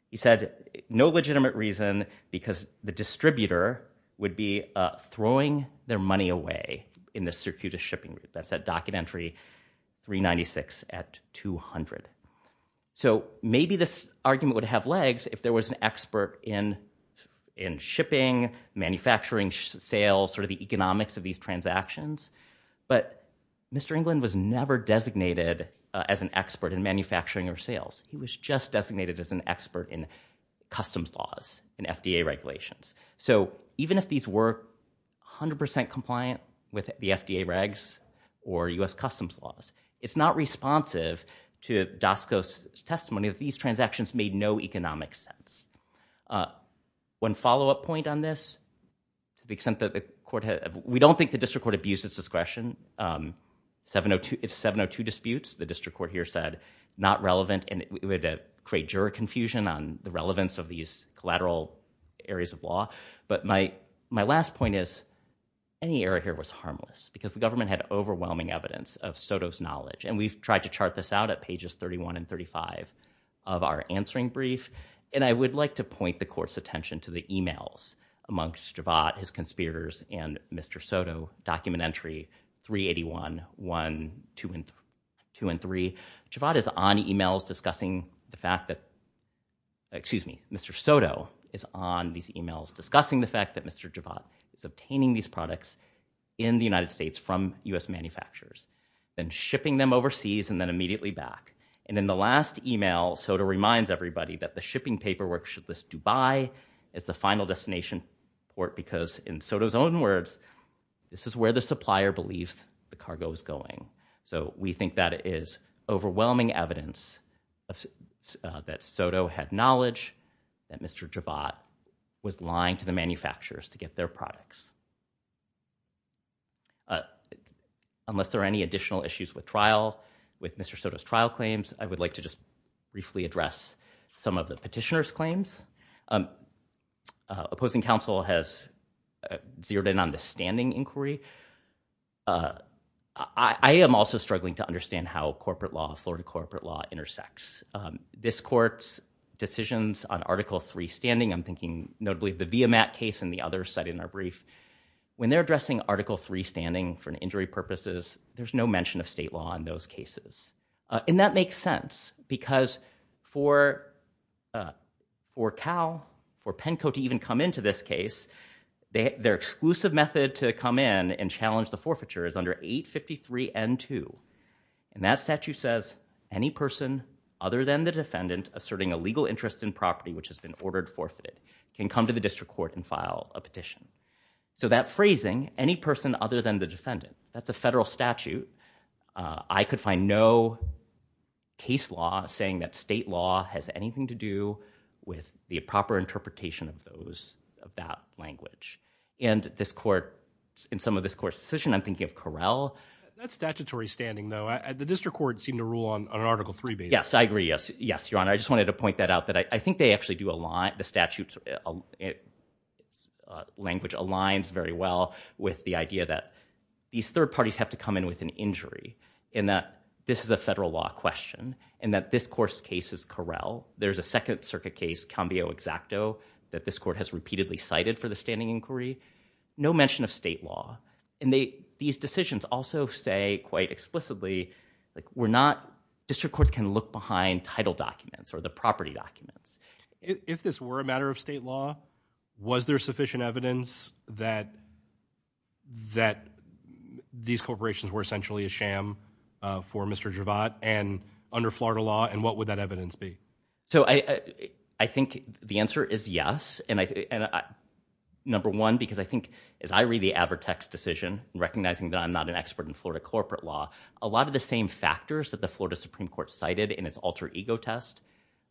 He said, no legitimate reason because the distributor would be throwing their money away in this circuitous shipping. That's that documentary, 396 at 200. So maybe this argument would have legs if there was an expert in shipping, manufacturing, sales, sort of the economics of these transactions. But Mr. England was never designated as an expert in manufacturing or sales. He was just designated as an expert in customs laws and FDA regulations. So even if these were 100% compliant with the FDA regs or US customs laws, it's not responsive to Doskos' testimony that these transactions made no economic sense. One follow-up point on this, to the extent that the court had, we don't think the district court abused its discretion, 702 disputes, the district court here said, not relevant and it would create juror confusion on the relevance of these collateral areas of law. But my last point is, any error here was harmless because the government had overwhelming evidence of Soto's knowledge. And we've tried to chart this out at pages 31 and 35 of our answering brief. And I would like to point the court's attention to the emails amongst Javad, his conspirators, and Mr. Soto, document entry 381, 1, 2, and 3. Javad is on emails discussing the fact that, excuse me, Mr. Soto is on these emails discussing the fact that Mr. Javad is obtaining these products in the United States from US manufacturers, then shipping them overseas and then immediately back. And in the last email, Soto reminds everybody that the shipping paperwork should list Dubai as the final destination port because, in Soto's own words, this is where the supplier believes the cargo is going. So we think that is overwhelming evidence that Soto had knowledge that Mr. Javad was lying to the manufacturers to get their products. Unless there are any additional issues with trial, with Mr. Soto's trial claims, I would like to just briefly address some of the petitioner's claims. Opposing counsel has zeroed in on the standing inquiry. I am also struggling to understand how corporate law, Florida corporate law, intersects. This court's decisions on Article 3 standing, I'm thinking notably the Viamat case and the other cited in our brief, when they're addressing Article 3 standing for injury purposes, there's no mention of state law in those cases. And that makes sense because for CAL, for PENCO to even come into this case, their exclusive method to come in and challenge the forfeiture is under 853N2, and that statute says any person other than the defendant asserting a legal interest in property which has been ordered forfeited can come to the district court and file a petition. So that phrasing, any person other than the defendant, that's a federal statute, I could find no case law saying that state law has anything to do with the proper interpretation of those, of that language. And this court, in some of this court's decision, I'm thinking of Correll. That statutory standing though, the district court seemed to rule on an Article 3 basis. Yes, I agree, yes, yes, your honor, I just wanted to point that out that I think they actually do align, the statute's language aligns very well with the idea that these third parties have to come in with an injury, and that this is a federal law question, and that this court's case is Correll. There's a second circuit case, Cambio-Exacto, that this court has repeatedly cited for the standing inquiry, no mention of state law. And these decisions also say quite explicitly, we're not, district courts can look behind title documents or the property documents. If this were a matter of state law, was there sufficient evidence that these corporations were essentially a sham for Mr. Javad and under Florida law, and what would that evidence be? So I think the answer is yes, and number one, because I think as I read the Avertex decision, recognizing that I'm not an expert in Florida corporate law, a lot of the same factors that the Florida Supreme Court cited in its alter ego test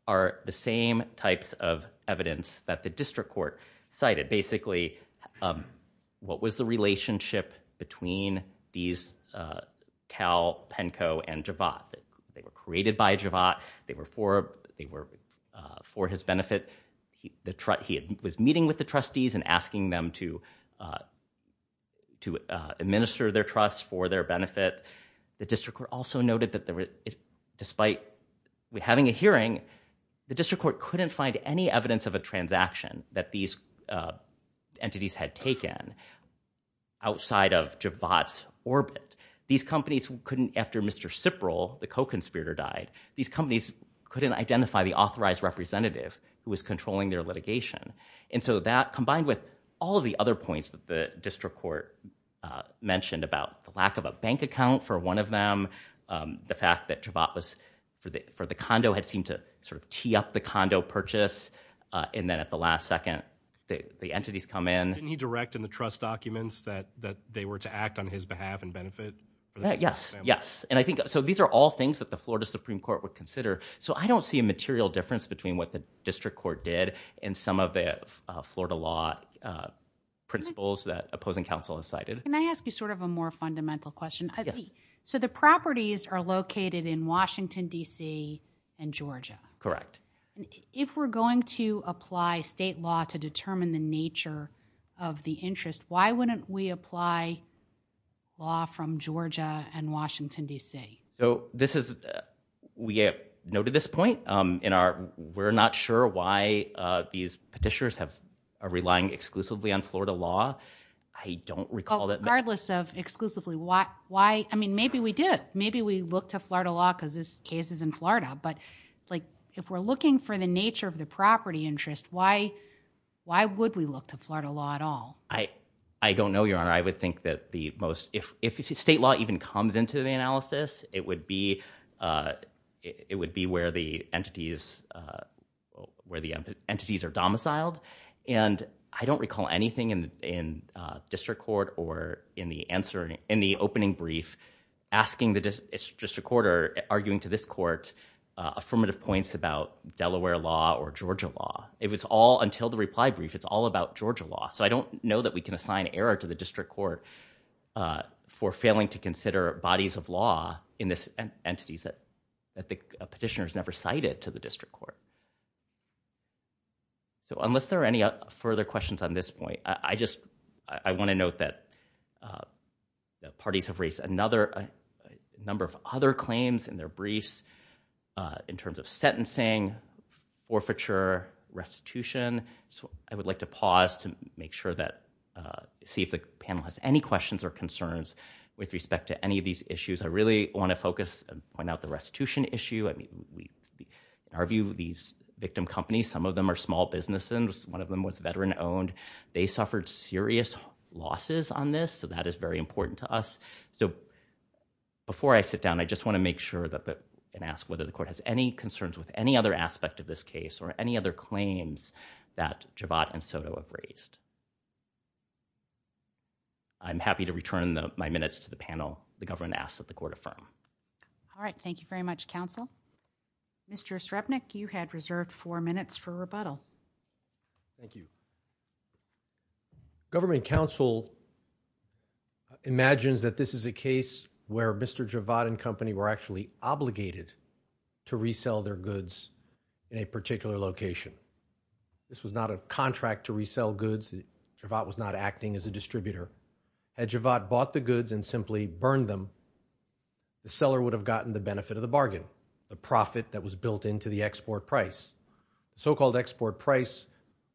are the same types of evidence that the district court cited. Basically, what was the relationship between these Cal, Penco, and Javad? They were created by Javad, they were for his benefit, he was meeting with the trustees and asking them to administer their trust for their benefit. The district court also noted that despite having a hearing, the district court couldn't find any evidence of a transaction that these entities had taken outside of Javad's orbit. These companies couldn't, after Mr. Cipral, the co-conspirator died, these companies couldn't identify the authorized representative who was controlling their litigation. And so that, combined with all of the other points that the district court mentioned about the lack of a bank account for one of them, the fact that Javad was for the condo had seemed to sort of tee up the condo purchase, and then at the last second, the entities come in. Didn't he direct in the trust documents that they were to act on his behalf and benefit the family? Yes, yes. And I think, so these are all things that the Florida Supreme Court would consider. So I don't see a material difference between what the district court did and some of the Florida law principles that opposing counsel has cited. Can I ask you sort of a more fundamental question? So the properties are located in Washington, D.C. and Georgia. Correct. If we're going to apply state law to determine the nature of the interest, why wouldn't we apply law from Georgia and Washington, D.C.? So this is, we have noted this point in our, we're not sure why these petitioners are relying exclusively on Florida law. I don't recall that- Well, regardless of exclusively, why, I mean, maybe we do. Maybe we look to Florida law because this case is in Florida. But like if we're looking for the nature of the property interest, why would we look to Florida law at all? I don't know, Your Honor. I would think that the most, if state law even comes into the analysis, it would be where the entities are domiciled. And I don't recall anything in district court or in the opening brief asking the district court or arguing to this court affirmative points about Delaware law or Georgia law. If it's all until the reply brief, it's all about Georgia law. So I don't know that we can assign error to the district court for failing to consider bodies of law in this entities that the petitioners never cited to the district court. So unless there are any further questions on this point, I just, I want to note that the parties have raised a number of other claims in their briefs in terms of sentencing, forfeiture, restitution. So I would like to pause to make sure that, see if the panel has any questions or concerns with respect to any of these issues. I really want to focus and point out the restitution issue. I mean, in our view, these victim companies, some of them are small businesses. One of them was veteran owned. They suffered serious losses on this. So that is very important to us. So before I sit down, I just want to make sure and ask whether the court has any concerns with any other aspect of this case or any other claims that Javad and Soto have raised. I'm happy to return my minutes to the panel. The government asks that the court affirm. All right. Thank you very much, counsel. Mr. Srebnick, you had reserved four minutes for rebuttal. Thank you. Government counsel imagines that this is a case where Mr. Javad and company were actually obligated to resell their goods in a particular location. This was not a contract to resell goods. Javad was not acting as a distributor. Had Javad bought the goods and simply burned them, the seller would have gotten the benefit of the bargain, the profit that was built into the export price. The so-called export price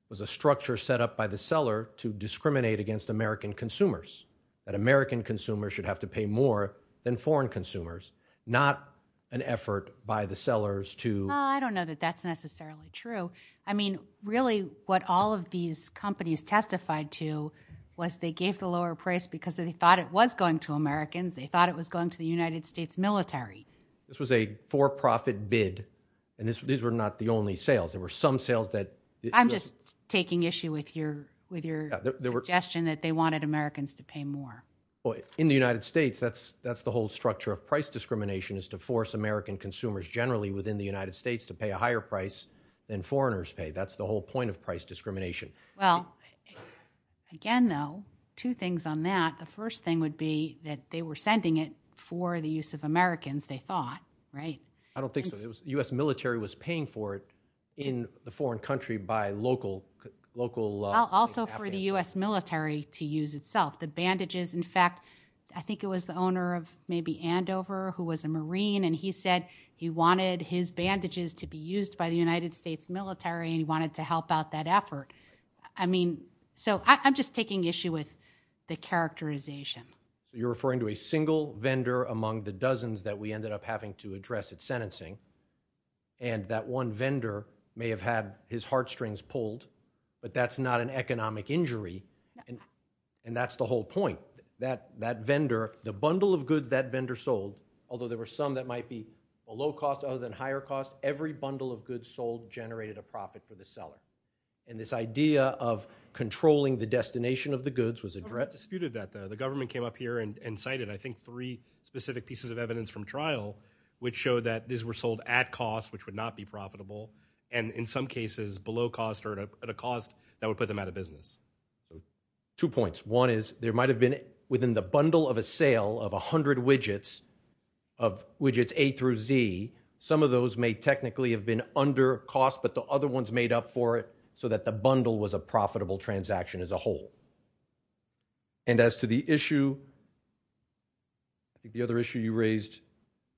was a structure set up by the seller to discriminate against American consumers, that American consumers should have to pay more than foreign consumers, not an effort by the sellers to... I don't know that that's necessarily true. I mean, really, what all of these companies testified to was they gave the lower price because they thought it was going to Americans, they thought it was going to the United States military. This was a for-profit bid, and these were not the only sales, there were some sales that... I'm just taking issue with your suggestion that they wanted Americans to pay more. In the United States, that's the whole structure of price discrimination, is to force American consumers generally within the United States to pay a higher price than foreigners pay. That's the whole point of price discrimination. Well, again, though, two things on that, the first thing would be that they were sending it for the use of Americans, they thought, right? I don't think so. The US military was paying for it in the foreign country by local... Also for the US military to use itself. The bandages, in fact, I think it was the owner of maybe Andover, who was a Marine, and he said he wanted his bandages to be used by the United States military, and he wanted to help out that effort. I mean, so I'm just taking issue with the characterization. You're referring to a single vendor among the dozens that we ended up having to address at sentencing, and that one vendor may have had his heartstrings pulled, but that's not an economic injury, and that's the whole point. That vendor, the bundle of goods that vendor sold, although there were some that might be a low cost other than higher cost, every bundle of goods sold generated a profit for the seller. And this idea of controlling the destination of the goods was addressed... The government came up here and cited I think three specific pieces of evidence from trial which showed that these were sold at cost, which would not be profitable, and in some cases below cost or at a cost that would put them out of business. Two points. One is there might have been within the bundle of a sale of a hundred widgets, of widgets A through Z, some of those may technically have been under cost, but the other ones made up for it so that the bundle was a profitable transaction as a whole. And as to the issue, I think the other issue you raised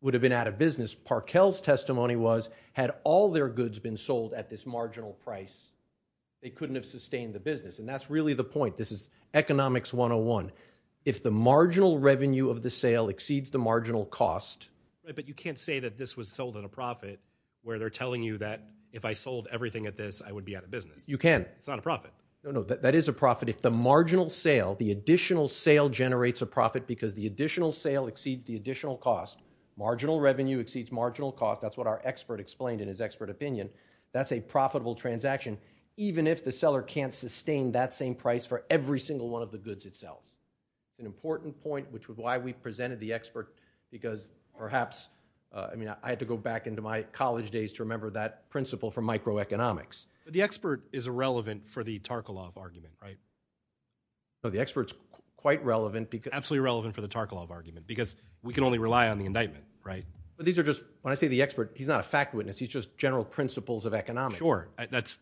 would have been out of business. Parkell's testimony was, had all their goods been sold at this marginal price, they couldn't have sustained the business, and that's really the point. This is economics 101. If the marginal revenue of the sale exceeds the marginal cost... But you can't say that this was sold at a profit where they're telling you that if I sold everything at this, I would be out of business. You can. It's not a profit. No, no. That is a profit. If the marginal sale, the additional sale generates a profit because the additional sale exceeds the additional cost, marginal revenue exceeds marginal cost, that's what our expert explained in his expert opinion, that's a profitable transaction, even if the seller can't sustain that same price for every single one of the goods it sells. An important point, which is why we presented the expert, because perhaps, I mean, I had to go back into my college days to remember that principle from microeconomics. The expert is irrelevant for the Tarkalov argument, right? No, the expert's quite relevant because... Absolutely relevant for the Tarkalov argument because we can only rely on the indictment, right? But these are just, when I say the expert, he's not a fact witness, he's just general principles of economics. Sure. That's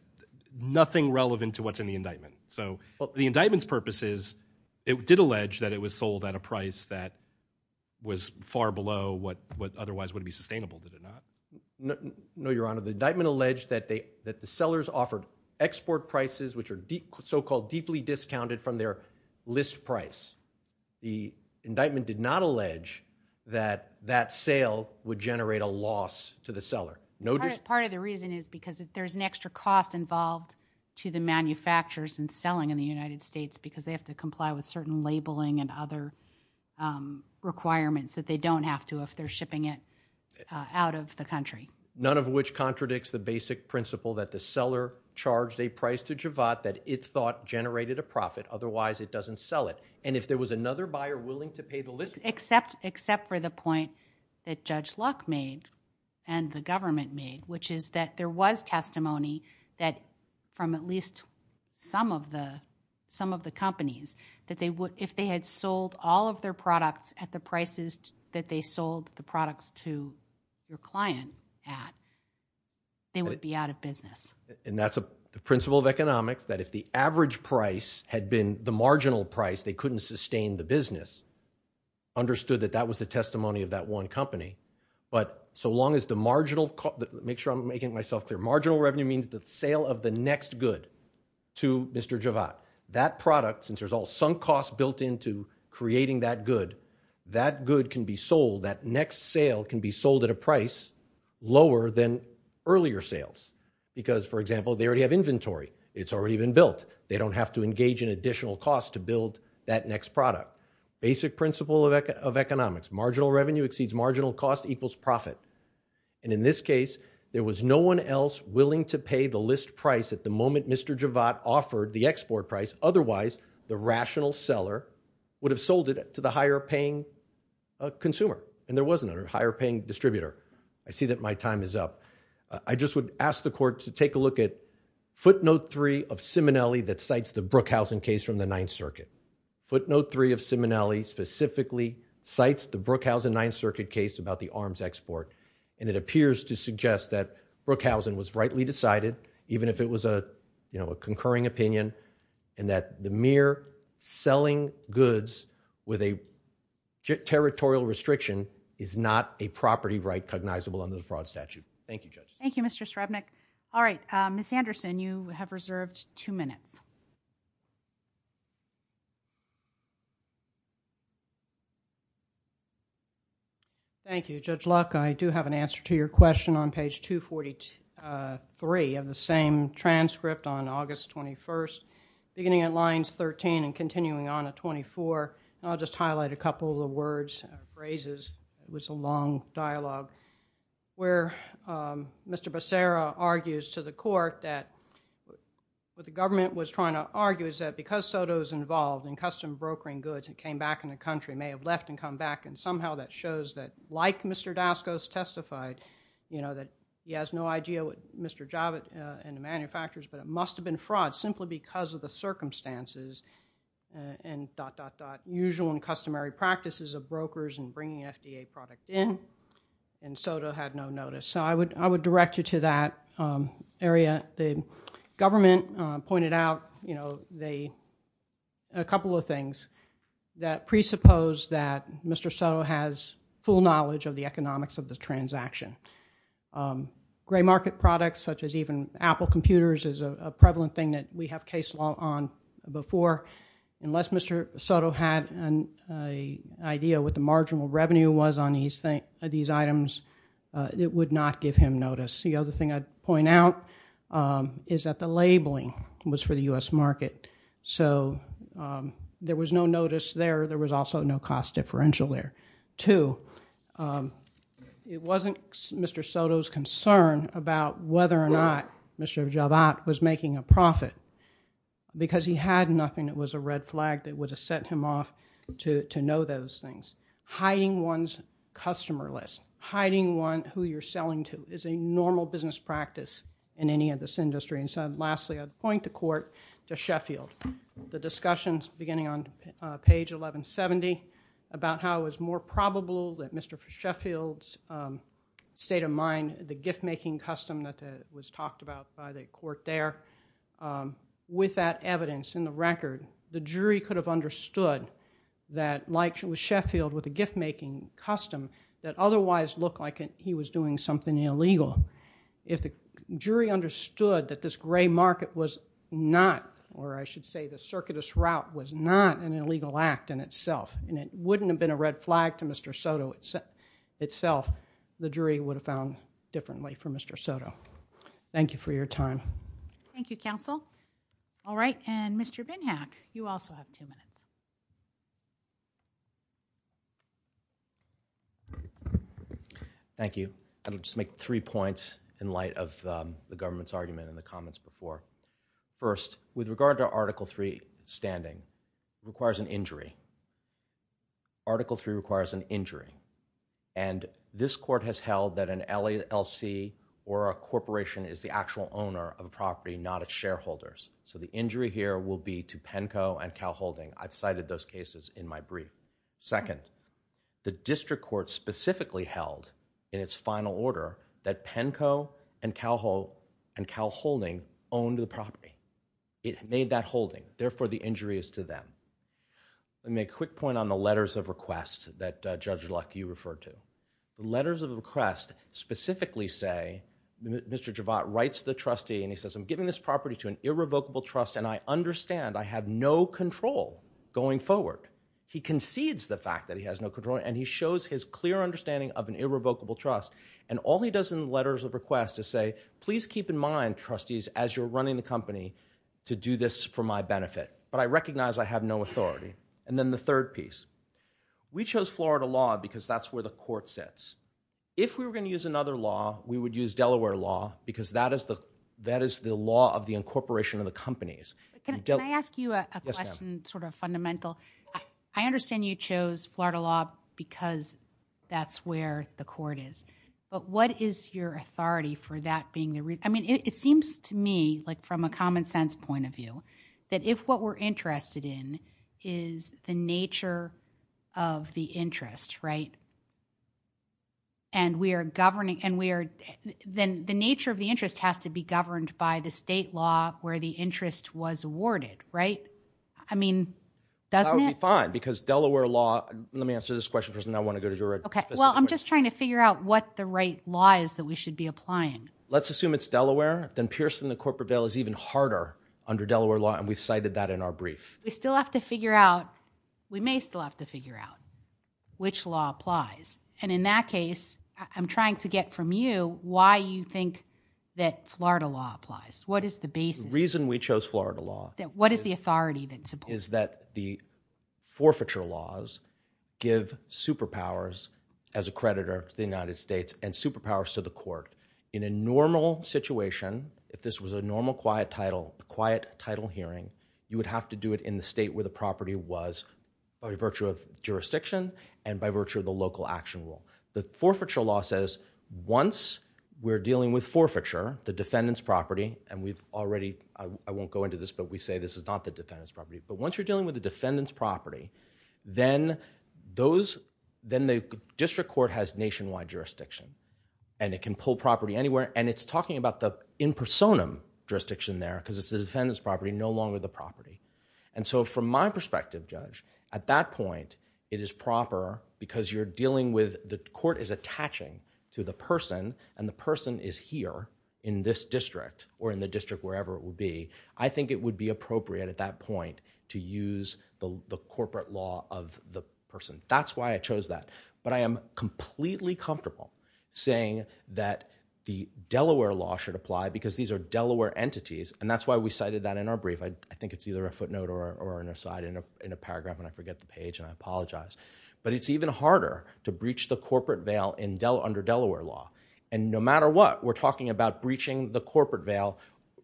nothing relevant to what's in the indictment. So the indictment's purpose is, it did allege that it was sold at a price that was far below what otherwise would be sustainable, did it not? No, your honor. Your honor, the indictment alleged that the sellers offered export prices which are so-called deeply discounted from their list price. The indictment did not allege that that sale would generate a loss to the seller. Part of the reason is because there's an extra cost involved to the manufacturers in selling in the United States because they have to comply with certain labeling and other requirements that they don't have to if they're shipping it out of the country. None of which contradicts the basic principle that the seller charged a price to Javad that it thought generated a profit, otherwise it doesn't sell it. And if there was another buyer willing to pay the list price... Except for the point that Judge Luck made and the government made, which is that there was testimony that from at least some of the companies, that if they had sold all of their client at, they would be out of business. And that's a principle of economics that if the average price had been the marginal price, they couldn't sustain the business, understood that that was the testimony of that one company. But so long as the marginal... Make sure I'm making myself clear. Marginal revenue means the sale of the next good to Mr. Javad. That product, since there's all sunk costs built into creating that good, that good can be sold, that next sale can be sold at a price lower than earlier sales. Because for example, they already have inventory. It's already been built. They don't have to engage in additional costs to build that next product. Basic principle of economics. Marginal revenue exceeds marginal cost equals profit. And in this case, there was no one else willing to pay the list price at the moment Mr. Javad offered the export price, otherwise the rational seller would have sold it to the higher paying consumer. And there wasn't a higher paying distributor. I see that my time is up. I just would ask the court to take a look at footnote three of Simonelli that cites the Brookhausen case from the Ninth Circuit. Footnote three of Simonelli specifically cites the Brookhausen Ninth Circuit case about the arms export. And it appears to suggest that Brookhausen was rightly decided, even if it was a concurring opinion, and that the mere selling goods with a territorial restriction is not a property right cognizable under the fraud statute. Thank you, Judge. Thank you, Mr. Srebnick. All right, Ms. Anderson, you have reserved two minutes. Thank you, Judge Luck. I do have an answer to your question on page 243 of the same transcript on August 21st, beginning at lines 13 and continuing on at 24. And I'll just highlight a couple of the words, phrases, it was a long dialogue, where Mr. Becerra argues to the court that what the government was trying to argue is that because Soto was involved in custom brokering goods and came back in the country, may have left and come back. And somehow that shows that, like Mr. Daskos testified, that he has no idea what Mr. Javad and the manufacturers, but it must have been fraud simply because of the circumstances and dot, dot, dot, usual and customary practices of brokers and bringing FDA product in, and Soto had no notice. So I would direct you to that area. The government pointed out a couple of things that presuppose that Mr. Soto has full knowledge of the economics of the transaction. Gray market products such as even Apple computers is a prevalent thing that we have case law on before. Unless Mr. Soto had an idea what the marginal revenue was on these items, it would not give him notice. The other thing I'd point out is that the labeling was for the U.S. market. So there was no notice there. There was also no cost differential there, too. It wasn't Mr. Soto's concern about whether or not Mr. Javad was making a profit because he had nothing that was a red flag that would have set him off to know those things. Hiding one's customer list, hiding who you're selling to is a normal business practice in any of this industry. And so lastly, I'd point the court to Sheffield. The discussions beginning on page 1170 about how it was more probable that Mr. Sheffield's state of mind, the gift-making custom that was talked about by the court there, with that evidence in the record, the jury could have understood that like with Sheffield with the gift-making custom that otherwise looked like he was doing something illegal. If the jury understood that this gray market was not, or I should say the circuitous route was not an illegal act in itself, and it wouldn't have been a red flag to Mr. Soto itself, the jury would have found a different way for Mr. Soto. Thank you for your time. Thank you, counsel. All right. And Mr. Binhack, you also have two minutes. Thank you. I'll just make three points in light of the government's argument in the comments before. First, with regard to Article III standing, it requires an injury. Article III requires an injury. And this court has held that an LLC or a corporation is the actual owner of a property, not its shareholders. So the injury here will be to Penco and Cal Holding. I've cited those cases in my brief. Second, the district court specifically held in its final order that Penco and Cal Holding owned the property. It made that holding. Therefore, the injury is to them. Let me make a quick point on the letters of request that Judge Luck, you referred to. Letters of request specifically say, Mr. Javat writes the trustee and he says, I'm giving this property to an irrevocable trust and I understand I have no control going forward. He concedes the fact that he has no control and he shows his clear understanding of an irrevocable trust. And all he does in the letters of request is say, please keep in mind, trustees, as you're running the company, to do this for my benefit. But I recognize I have no authority. And then the third piece. We chose Florida law because that's where the court sits. If we were going to use another law, we would use Delaware law because that is the law of the incorporation of the companies. Can I ask you a question, sort of fundamental? I understand you chose Florida law because that's where the court is. But what is your authority for that being the reason? I mean, it seems to me, like from a common sense point of view, that if what we're interested in is the nature of the interest, right? And we are governing, and we are, then the nature of the interest has to be governed by the state law where the interest was awarded, right? I mean, doesn't it? That would be fine because Delaware law, let me answer this question first and then I want to go to your specific question. Okay. Well, I'm just trying to figure out what the right law is that we should be applying. Let's assume it's Delaware. Then piercing the corporate bail is even harder under Delaware law, and we've cited that in our brief. We still have to figure out, we may still have to figure out, which law applies. And in that case, I'm trying to get from you why you think that Florida law applies. What is the basis? The reason we chose Florida law. What is the authority that supports it? Is that the forfeiture laws give superpowers as a creditor to the United States and superpowers to the court. In a normal situation, if this was a normal quiet title, quiet title hearing, you would have to do it in the state where the property was by virtue of jurisdiction and by virtue of the local action rule. The forfeiture law says once we're dealing with forfeiture, the defendant's property, and we've already, I won't go into this, but we say this is not the defendant's property. But once you're dealing with the defendant's property, then the district court has nationwide jurisdiction and it can pull property anywhere. And it's talking about the in personam jurisdiction there because it's the defendant's property, no longer the property. And so from my perspective, Judge, at that point, it is proper because you're dealing with the court is attaching to the person and the person is here in this district or in the district wherever it would be. I think it would be appropriate at that point to use the corporate law of the person. That's why I chose that. But I am completely comfortable saying that the Delaware law should apply because these are Delaware entities. And that's why we cited that in our brief. I think it's either a footnote or an aside in a paragraph and I forget the page and I apologize. But it's even harder to breach the corporate veil under Delaware law. And no matter what, we're talking about breaching the corporate veil,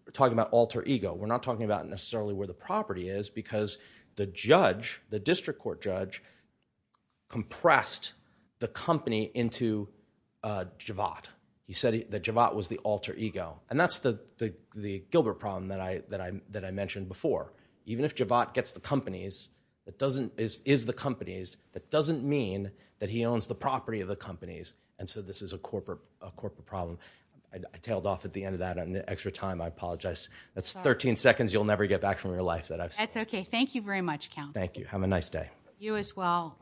we're talking about alter ego. We're not talking about necessarily where the property is because the judge, the district court judge, compressed the company into Javad. He said that Javad was the alter ego. And that's the Gilbert problem that I mentioned before. Even if Javad gets the companies, is the companies, that doesn't mean that he owns the property of the companies. And so this is a corporate problem. I tailed off at the end of that on extra time. I apologize. That's 13 seconds you'll never get back from your life. That's okay. Thank you very much, counsel. Thank you. Have a nice day. You as well.